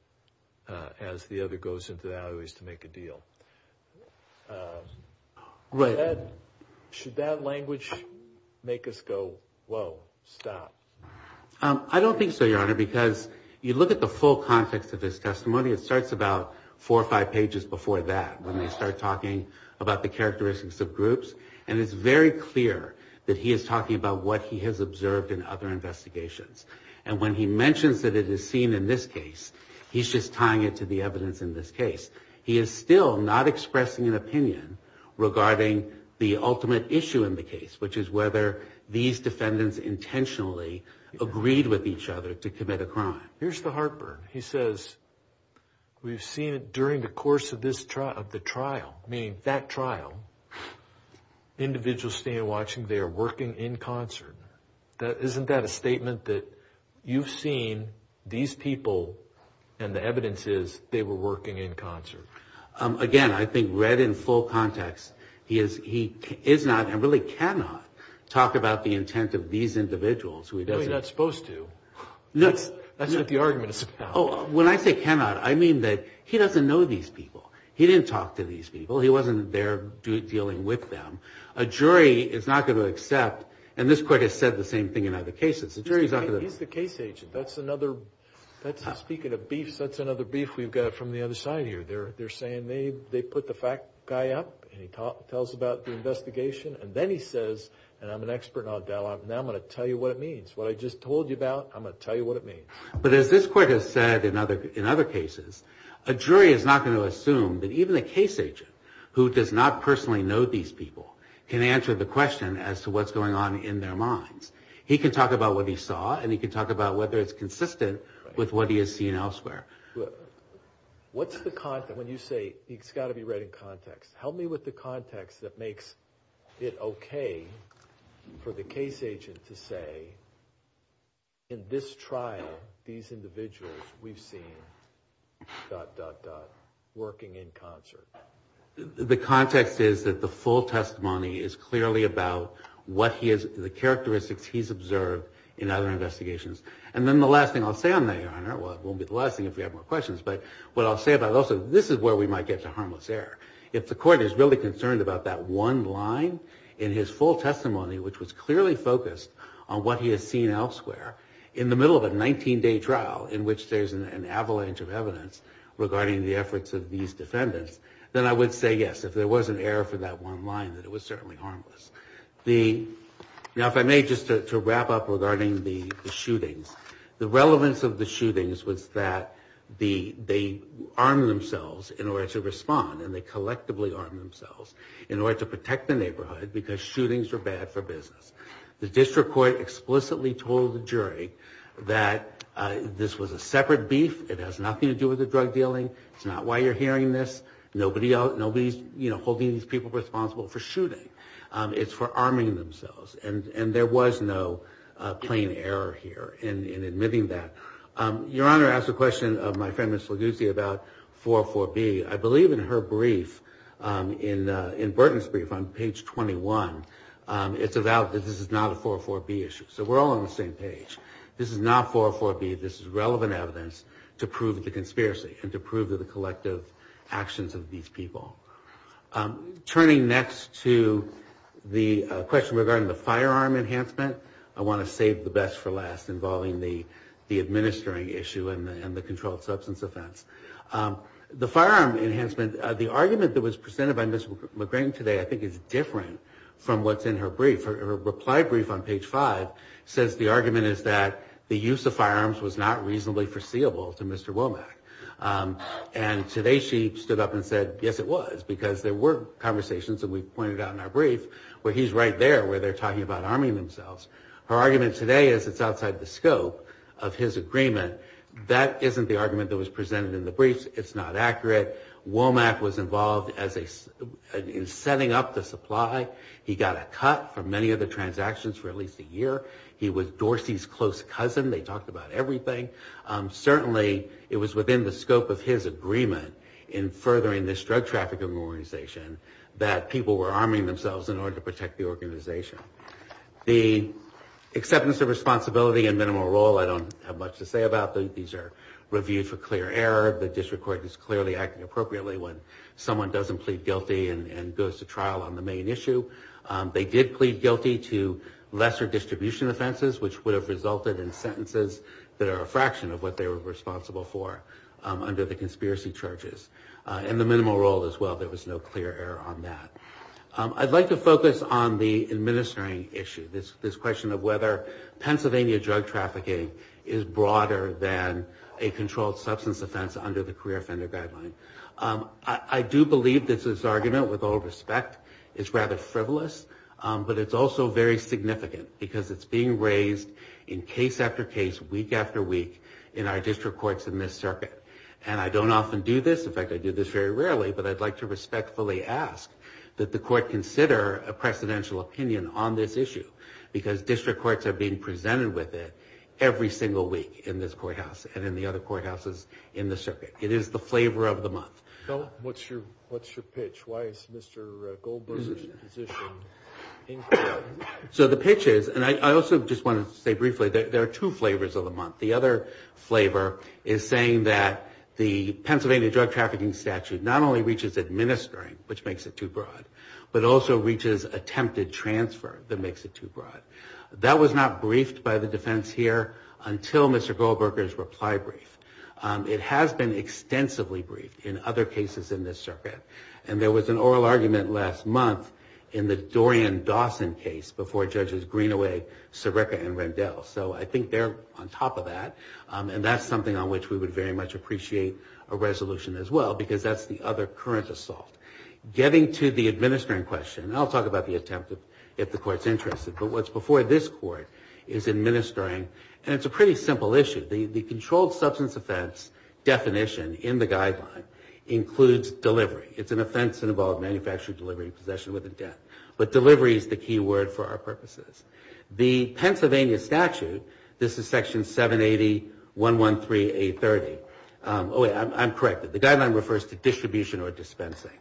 As the other goes into the alleyways. To make a deal. Should that language. Make us go. Whoa stop. I don't think so. Your honor. Because. You look at the full context. Of his testimony. It starts about. Four or five pages. Before that. When they start talking. About the characteristics. Of groups. And it's very clear. That he is talking about. What he has observed. In other investigations. And when he mentions. That it is seen in this case. He's just tying it. To the evidence in this case. He is still not expressing. An opinion regarding. The ultimate issue in the case. Which is whether. These defendants intentionally. Agreed with each other. To commit a crime. Here's the heartburn. He says. We've seen it. During the course of this trial. Of the trial. Meaning that trial. Individuals stand watching. They are working in concert. Isn't that a statement. That you've seen. These people. And the evidence is. They were working in concert. Again. I think read in full context. He is. He is not. And really cannot. Talk about the intent. Of these individuals. He's not supposed to. That's what the argument is about. Oh. When I say cannot. I mean that. He doesn't know these people. He didn't talk to these people. He wasn't there. Dealing with them. A jury is not going to accept. And this court has said. The same thing in other cases. The jury is not going to. He's the case agent. That's another. That's speaking of beef. That's another beef. We've got it from the other side here. They're they're saying. They they put the fact guy up. And he tells about the investigation. And then he says. And I'm an expert on dialogue. Now I'm going to tell you what it means. What I just told you about. I'm going to tell you what it means. But as this court has said. In other in other cases. A jury is not going to assume. That even a case agent. Who does not personally know these people. Can answer the question. As to what's going on in their minds. He can talk about what he saw. And he can talk about. Whether it's consistent. With what he has seen elsewhere. What's the content. When you say. He's got to be right in context. Help me with the context. That makes it okay. For the case agent. To say. In this trial. These individuals. We've seen. Working in concert. The context is. That the full testimony. Is clearly about. What he is. The characteristics. He's observed. In other investigations. And then the last thing. I'll say on that your honor. Well it won't be the last thing. If you have more questions. But what I'll say about. Also this is where. We might get to harmless error. If the court is really concerned. About that one line. In his full testimony. Which was clearly focused. On what he has seen elsewhere. In the middle of a 19 day trial. In which there's. An avalanche of evidence. Regarding the efforts. Of these defendants. Then I would say yes. If there was an error. For that one line. That it was certainly harmless. The. Now if I may. Just to wrap up. Regarding the shootings. The relevance of the shootings. Was that. The. They. Armed themselves. In order to respond. And they collectively. Armed themselves. In order to protect. The neighborhood. Because shootings. Are bad for business. The district court. Explicitly told the jury. That. This was a separate beef. It has nothing to do. With the drug dealing. It's not why you're hearing this. Nobody else. Nobody's. You know. Holding these people. Responsible for shooting. It's for arming themselves. And there was no. Plain error here. In admitting that. Your honor. Asked a question. Of my friend. Mr. Luguzzi. About. 404 B. I believe in her brief. In. In Burton's brief. On page 21. It's about. That this is not a 404 B. Issue. So we're all on the same page. This is not 404 B. This is relevant evidence. To prove the conspiracy. And to prove that the collective. Actions of these people. Turning next to. The question. Regarding the firearm. Enhancement. I want to save the best for last. Involving the. The administering issue. And the controlled substance offense. The firearm enhancement. The argument that was presented. By Mr. McGrane today. I think it's different. From what's in her brief. Her reply brief. On page five. Says the argument is that. The use of firearms. Was not reasonably foreseeable. To Mr. Womack. And today. She stood up and said. Yes it was. Because there were conversations. And we pointed out in our brief. Where he's right there. Where they're talking about. Arming themselves. Her argument today. Is it's outside the scope. Of his agreement. That isn't the argument. That was presented in the briefs. It's not accurate. Womack was involved as a. In setting up the supply. He got a cut. From many of the transactions. For at least a year. He was Dorsey's close cousin. They talked about everything. Certainly. It was within the scope of his agreement. In furthering this drug trafficking organization. That people were arming themselves. In order to protect the organization. The acceptance of responsibility. And minimal role. I don't have much to say about. These are reviewed for clear error. The district court is clearly acting appropriately. When someone doesn't plead guilty. And goes to trial on the main issue. They did plead guilty. To lesser distribution offenses. Which would have resulted in sentences. That are a fraction. Of what they were responsible for. Under the conspiracy charges. And the minimal role as well. There was no clear error on that. I'd like to focus on the administering issue. This question of whether. Pennsylvania drug trafficking. Is broader than. A controlled substance offense. Under the career offender guideline. I do believe this is argument. With all respect. It's rather frivolous. But it's also very significant. Because it's being raised. In case after case. Week after week. In our district courts. In this circuit. And I don't often do this. In fact I do this very rarely. But I'd like to respectfully ask. That the court consider. A precedential opinion on this issue. Because district courts. Are being presented with it. Every single week. In this courthouse. And in the other courthouses. In the circuit. It is the flavor of the month. What's your pitch? Why is Mr. Goldberger's position. So the pitch is. And I also just want to say briefly. There are two flavors of the month. The other flavor. Is saying that. The Pennsylvania drug trafficking statute. Not only reaches administering. Which makes it too broad. But also reaches attempted transfer. That makes it too broad. That was not briefed by the defense here. Until Mr. Goldberger's reply brief. It has been extensively briefed. In other cases in this circuit. And there was an oral argument last month. In the Dorian Dawson case. Before judges Greenaway. Sirica and Rendell. So I think they're on top of that. And that's something. On which we would very much appreciate. A resolution as well. Because that's the other current assault. Getting to the administering question. I'll talk about the attempt. If the court's interested. But what's before this court. Is administering. And it's a pretty simple issue. The controlled substance offense. Definition in the guideline. Includes delivery. It's an offense involved. Manufacturing delivery. Possession with intent. But delivery is the key word. For our purposes. The Pennsylvania statute. This is section 780. 113 830. Oh wait. I'm corrected. The guideline refers to distribution. Or dispensing.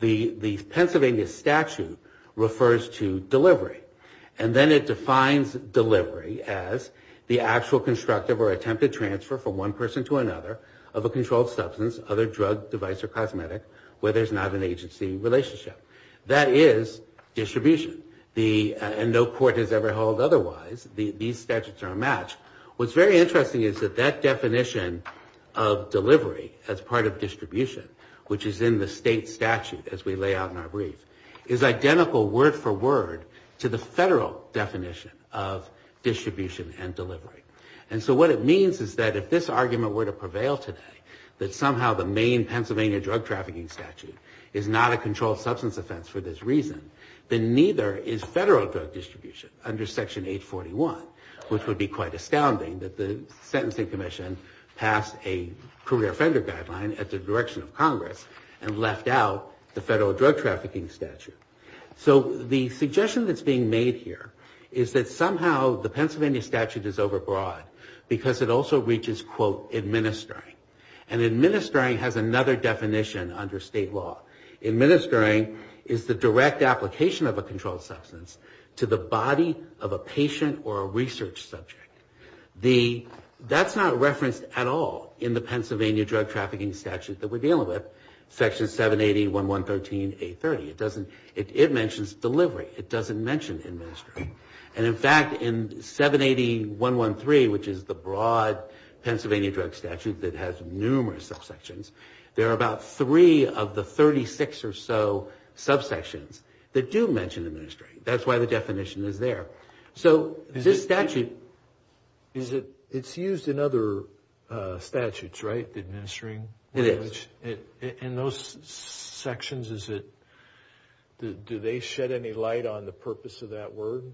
The Pennsylvania statute. Refers to delivery. And then it defines delivery. As the actual constructive. Or attempted transfer. From one person to another. Of a controlled substance. Other drug device or cosmetic. Where there's not an agency relationship. That is distribution. The. And no court has ever held otherwise. These statutes are a match. What's very interesting. Is that that definition. Of delivery. As part of distribution. Which is in the state statute. As we lay out in our brief. Is identical word for word. To the federal definition. Of distribution and delivery. And so what it means. Is that if this argument. Were to prevail today. That somehow the main. Pennsylvania drug trafficking statute. Is not a controlled substance offense. For this reason. Then neither is federal drug distribution. Under section 841. Which would be quite astounding. That the sentencing commission. Passed a career offender guideline. At the direction of congress. And left out. The federal drug trafficking statute. So the suggestion that's being made here. Is that somehow. The Pennsylvania statute. Is over broad. Because it also reaches. Quote administering. And administering. Has another definition. Under state law. Administering. Is the direct application. Of a controlled substance. To the body of a patient. Or a research subject. That's not referenced at all. In the Pennsylvania drug trafficking statute. That we're dealing with. Section 780 1113 830. It doesn't. It mentions delivery. It doesn't mention administering. And in fact. In 780 113. Which is the broad. Pennsylvania drug statute. That has numerous subsections. There are about three. Of the 36 or so. Subsections. That do mention administering. That's why the definition is there. So this statute. Is it. It's used in other. Statutes right. The administering. It is. In those sections. Is it. Do they shed any light. On the purpose of that word.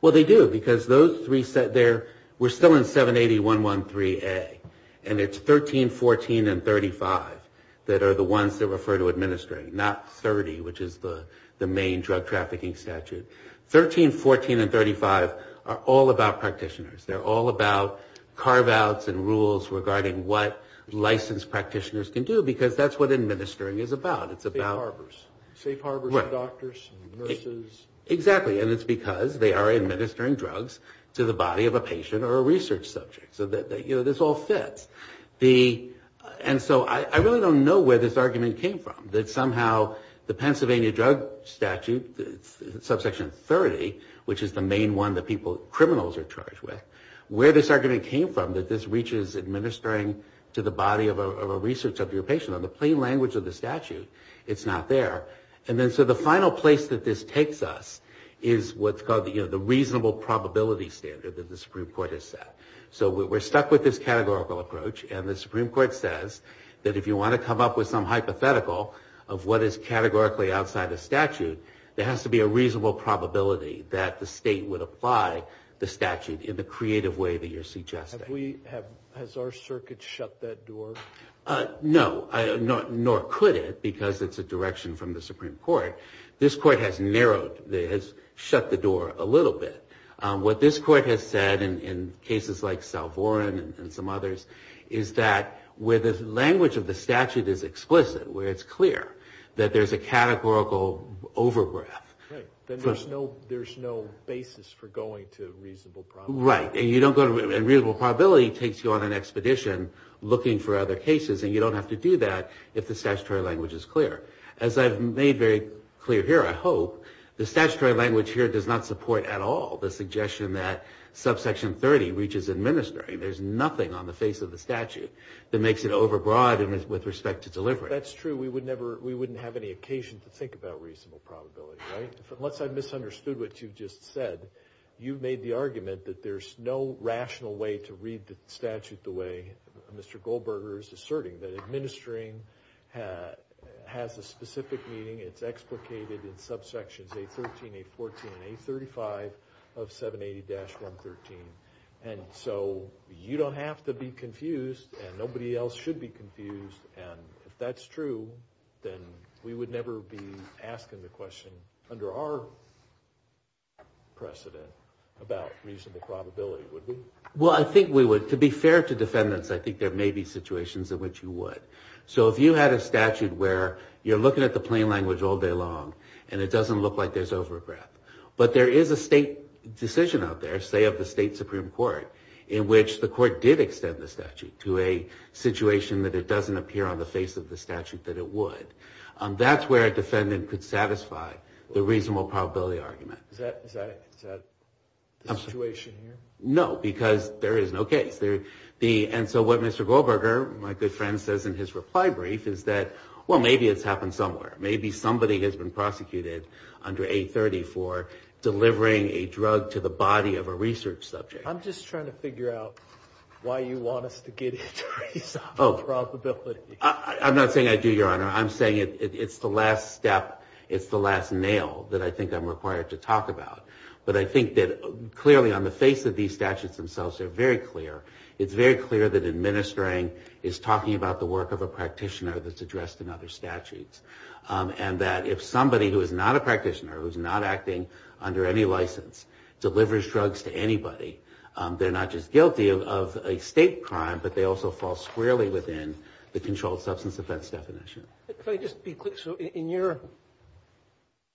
Well they do. Because those three. Set there. We're still in 780 113 a. And it's 13 14. And 35. That are the ones. That refer to administering. Not 30. Which is the. The main drug trafficking statute. 13 14. And 35. Are all about practitioners. They're all about. Carve outs. And rules. Regarding what. Licensed practitioners can do. Because that's what administering. Is about. It's about. Safe harbors. Doctors. Exactly. And it's because. They are administering drugs. To the body of a patient. Or a research subject. So that you know. This all fits. The. And so. I really don't know. Where this argument came from. That somehow. The Pennsylvania drug statute. Subsection 30. Which is the main one. That people. Criminals are charged with. Where this argument came from. That this reaches administering. To the body of a. Research of your patient. On the plain language. Of the statute. It's not there. And then so. The final place. That this takes us. Is what's called. The reasonable. Probability standard. That the Supreme Court has set. So we're stuck. With this categorical approach. And the Supreme Court says. That if you want to come up. With some hypothetical. Of what is categorically. Outside a statute. There has to be a reasonable. Probability. That the state would apply. The statute. In the creative way. That you're suggesting. We have. Has our circuit. Shut that door. No. Nor could it. Because it's a direction. From the Supreme Court. This court has narrowed. Has shut the door. A little bit. What this court. Has said. In cases like. South Warren. And some others. Is that. Where the language. Of the statute. Is explicit. Where it's clear. That there's a categorical. Overbreath. Right. Then there's no. There's no. Basis for going. To reasonable. Probability. Right. And you don't go. And reasonable. Probability. Takes you on an expedition. Looking for other cases. And you don't have to do that. If the statutory language. Is clear. As I've made very. Clear here. I hope. The statutory. Language here. Does not support. At all. The suggestion that. Subsection 30. Reaches administering. There's nothing. On the face of the statute. That makes it overbroad. And with respect to delivery. That's true. We would never. We wouldn't have any occasion. To think about reasonable. Probability. Right. Unless I've misunderstood. What you've just said. You've made the argument. That there's no. Rational way. To read the statute. The way. Mr. Goldberger is asserting. That administering. Has a specific meaning. It's explicated. In subsections. A13. A14. A35. Of 780-113. And so. You don't have. To be confused. And nobody else. Should be confused. And if that's true. Then. We would never be. Asking the question. Under our. Precedent. About reasonable. Probability would be. Well I think we would. To be fair to defendants. I think there may be. Situations in which you would. So if you had a statute. Where you're looking at. The plain language. All day long. And it doesn't look. Like there's over breath. But there is a state. Decision out there. Say of the state. Supreme court. In which the court. Did extend the statute. To a situation. That it doesn't appear. On the face of the statute. That it would. That's where a defendant. Could satisfy. The reasonable. Probability argument. Is that. A situation here. No because. There is no case. And so what Mr. Goldberger. My good friend says. In his reply brief. Is that. Well maybe it's happened. Somewhere. Maybe somebody. Has been prosecuted. Under 830. For delivering. A drug. To the body. Of a research subject. I'm just trying. To figure out. Why you want us. To get it. Oh. Probability. I'm not saying. I do your honor. I'm saying. It's the last step. It's the last nail. That I think I'm required. To talk about. But I think that. Clearly on the face. Of these statutes. Themselves are very clear. It's very clear. That administering. Is talking about the work. Of a practitioner. That's addressed. In other statutes. And that. If somebody. Who is not a practitioner. Who's not acting. Under any license. Delivers drugs. To anybody. They're not just guilty. Of a state crime. But they also. Fall squarely within. The controlled substance. Offense definition. If I just be clear. So in your.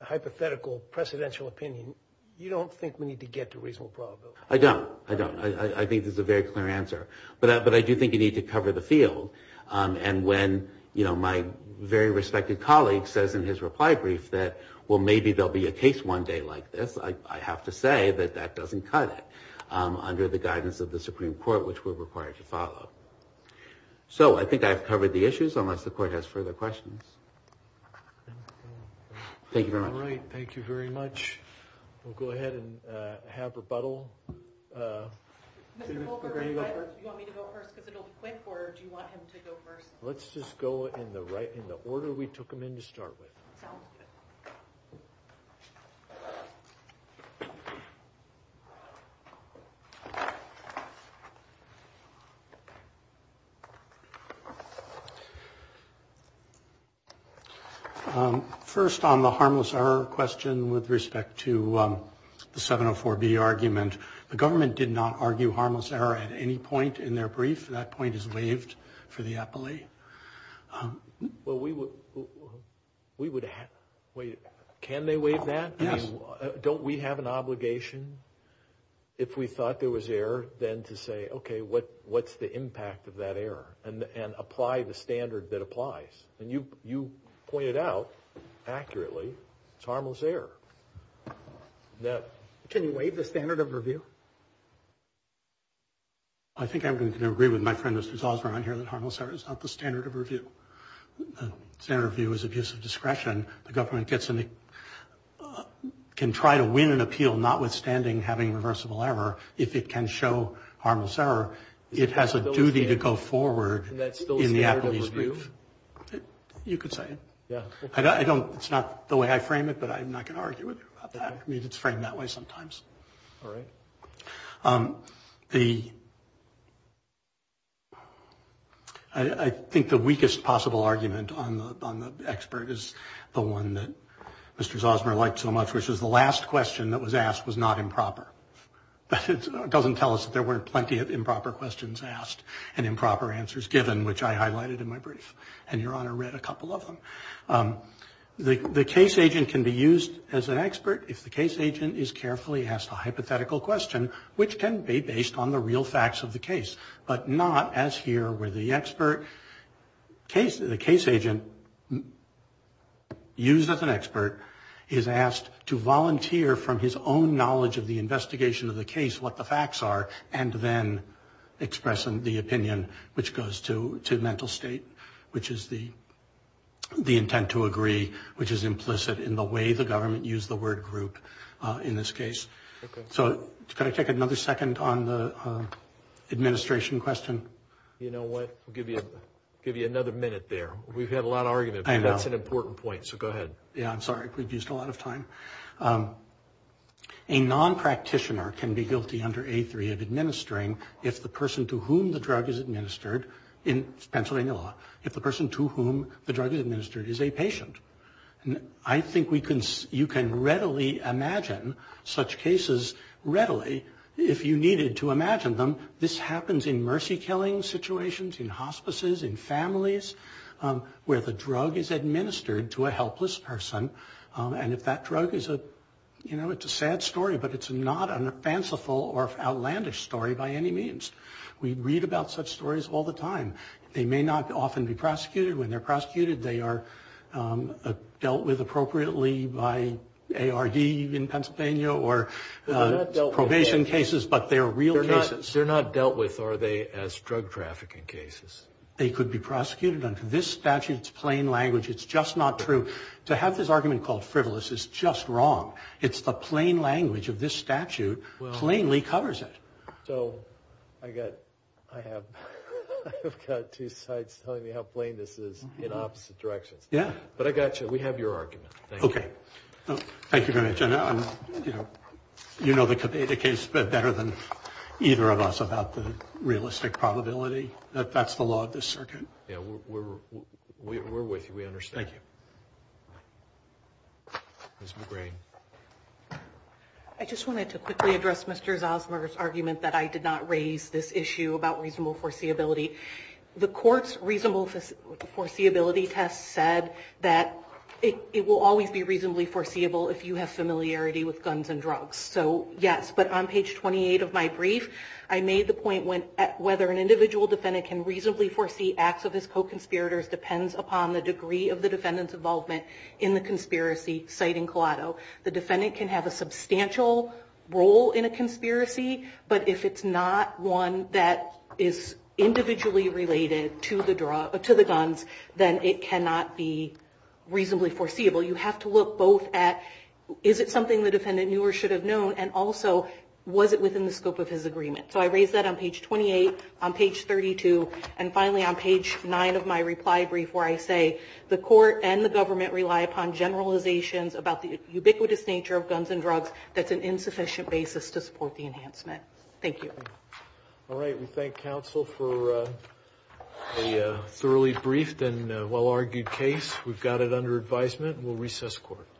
Hypothetical. Presidential opinion. You don't think. We need to get. To reasonable probability. I don't. I don't. I think. There's a very clear answer. But I do think. You need to cover the field. And when. You know my. Very respected colleague. Says in his reply. Brief that. Well maybe. There'll be a case. One day like this. I have to say. That that doesn't cut it. Under the guidance. Of the Supreme Court. Which we're required. To follow. So I think. I've covered the issues. Unless the court. Has further questions. Thank you very much. All right. Thank you very much. We'll go ahead. And have rebuttal. Mr. Goldberg. You want me to go first. Because it'll be quick. Or do you want him. To go first. Let's just go. In the right. In the order. We took him in. To start with. First. On the harmless. Error question. With respect to. The 704b argument. The government. Did not argue. Harmless error. At any point. In their brief. That point is waived. For the appellee. Well we would. We would have. Wait. Can they waive that. Yes. Don't we have an obligation. If we thought. There was error. Then to say. Okay. What. What's the impact. Of that error. And. And apply the standard. That applies. And you. You pointed out. Accurately. It's harmless error. Now. Can you waive. The standard of review. I think I'm going to agree. With my friend. Harmless error. Is not the standard of review. Standard of view. Is abuse of discretion. The government gets. Can try to win. An appeal. Notwithstanding. Having reversible error. If it can show. Harmless error. It has a duty. To go forward. And that's still. You could say. Yeah. I don't. It's not the way. I frame it. But I'm not going. To argue with you. About that. I mean. It's framed that way. Sometimes. All right. The. I think. The weakest. Possible argument. On the. On the. Expert is. The one that. Mr. Zosmer. Liked so much. Which is the last question. That was asked. Was not improper. It doesn't tell us. That there weren't. Plenty of improper. Questions asked. And improper. Answers given. Which I highlighted. In my brief. And your honor. The case agent. Can be used. As an expert. If the case agent. Is carefully. Asked a hypothetical. Question. Which can be. Based on the real. Fact. And the. Real facts. And the. Facts of the case. But not. As here. Where the expert. Case. The case agent. Used as an expert. Is asked. To volunteer. From his own knowledge. Of the investigation. Of the case. What the facts are. And then. Expressing the opinion. Which goes to. To mental state. Which is the. The intent to agree. Which is implicit. In the way the government. Use the word group. In this case. So. Can I take another. Second on the. Administration. Question. You know what. We'll give you. Give you another minute there. We've had a lot of argument. That's an important point. So go ahead. Yeah. I'm sorry. We've used a lot of time. A non practitioner. Can be guilty under a three. Of administering. If the person to whom. The drug is administered. In Pennsylvania law. If the person to whom. The drug is administered. Is a patient. And I think we can. You can readily. Imagine. Such cases. Readily. If you needed to. Imagine them. This happens. In mercy. Killing situations. In hospices. In families. Where the drug. Is administered. To a helpless person. And if that drug. Is a you know. It's a sad story. But it's not a fanciful. Or outlandish story. By any means. We read about such stories. All the time. They may not. Often be prosecuted. When they're prosecuted. They are. Dealt with appropriately. By ARD. In Pennsylvania. Or probation cases. But they are real cases. They're not dealt with. Are they. As drug trafficking cases. They could be prosecuted. Under this statute. It's plain language. It's just not true. To have this argument. Called frivolous. Is just wrong. It's the plain language. Of this statute. Plainly covers it. So I got. I have. I've got two sides. Telling me how plain. This is. In opposite directions. Yeah. But I got you. We have your argument. Okay. Thank you very much. I know I'm. You know. You know the case. But better than. Either of us. About the. Realistic probability. That that's the law. Of this circuit. Yeah we're. We're with you. We understand. Thank you. Ms. McGrain. I just wanted to quickly. Address Mr. Zosmer's argument. That I did not raise this issue. About reasonable foreseeability. The court's reasonable. Foreseeability test said. That it will always be. Reasonably foreseeable. If you have familiarity. With guns and drugs. So yes. On page 28 of my brief. I made the point. Whether an individual defendant. Can reasonably foresee. Acts of his co-conspirators. Depends upon the degree. Of the defendant's involvement. In the conspiracy. Citing collateral. The defendant can have a substantial. Role in a conspiracy. But if it's not one. That is individually related. To the drug. To the guns. Then it cannot be. Reasonably foreseeable. You have to look both at. Is it something the defendant. Knew or should have known. And also. Was it within the scope. Of his agreement. So I raised that on page 28. On page 32. And finally on page 9. Of my reply brief. Where I say. The court. And the government. Rely upon generalizations. About the ubiquitous nature. Of guns and drugs. That's an insufficient basis. To support the enhancement. Thank you. All right. We thank counsel for. A thoroughly briefed. And well argued case. We've got it under advisement. We'll recess court.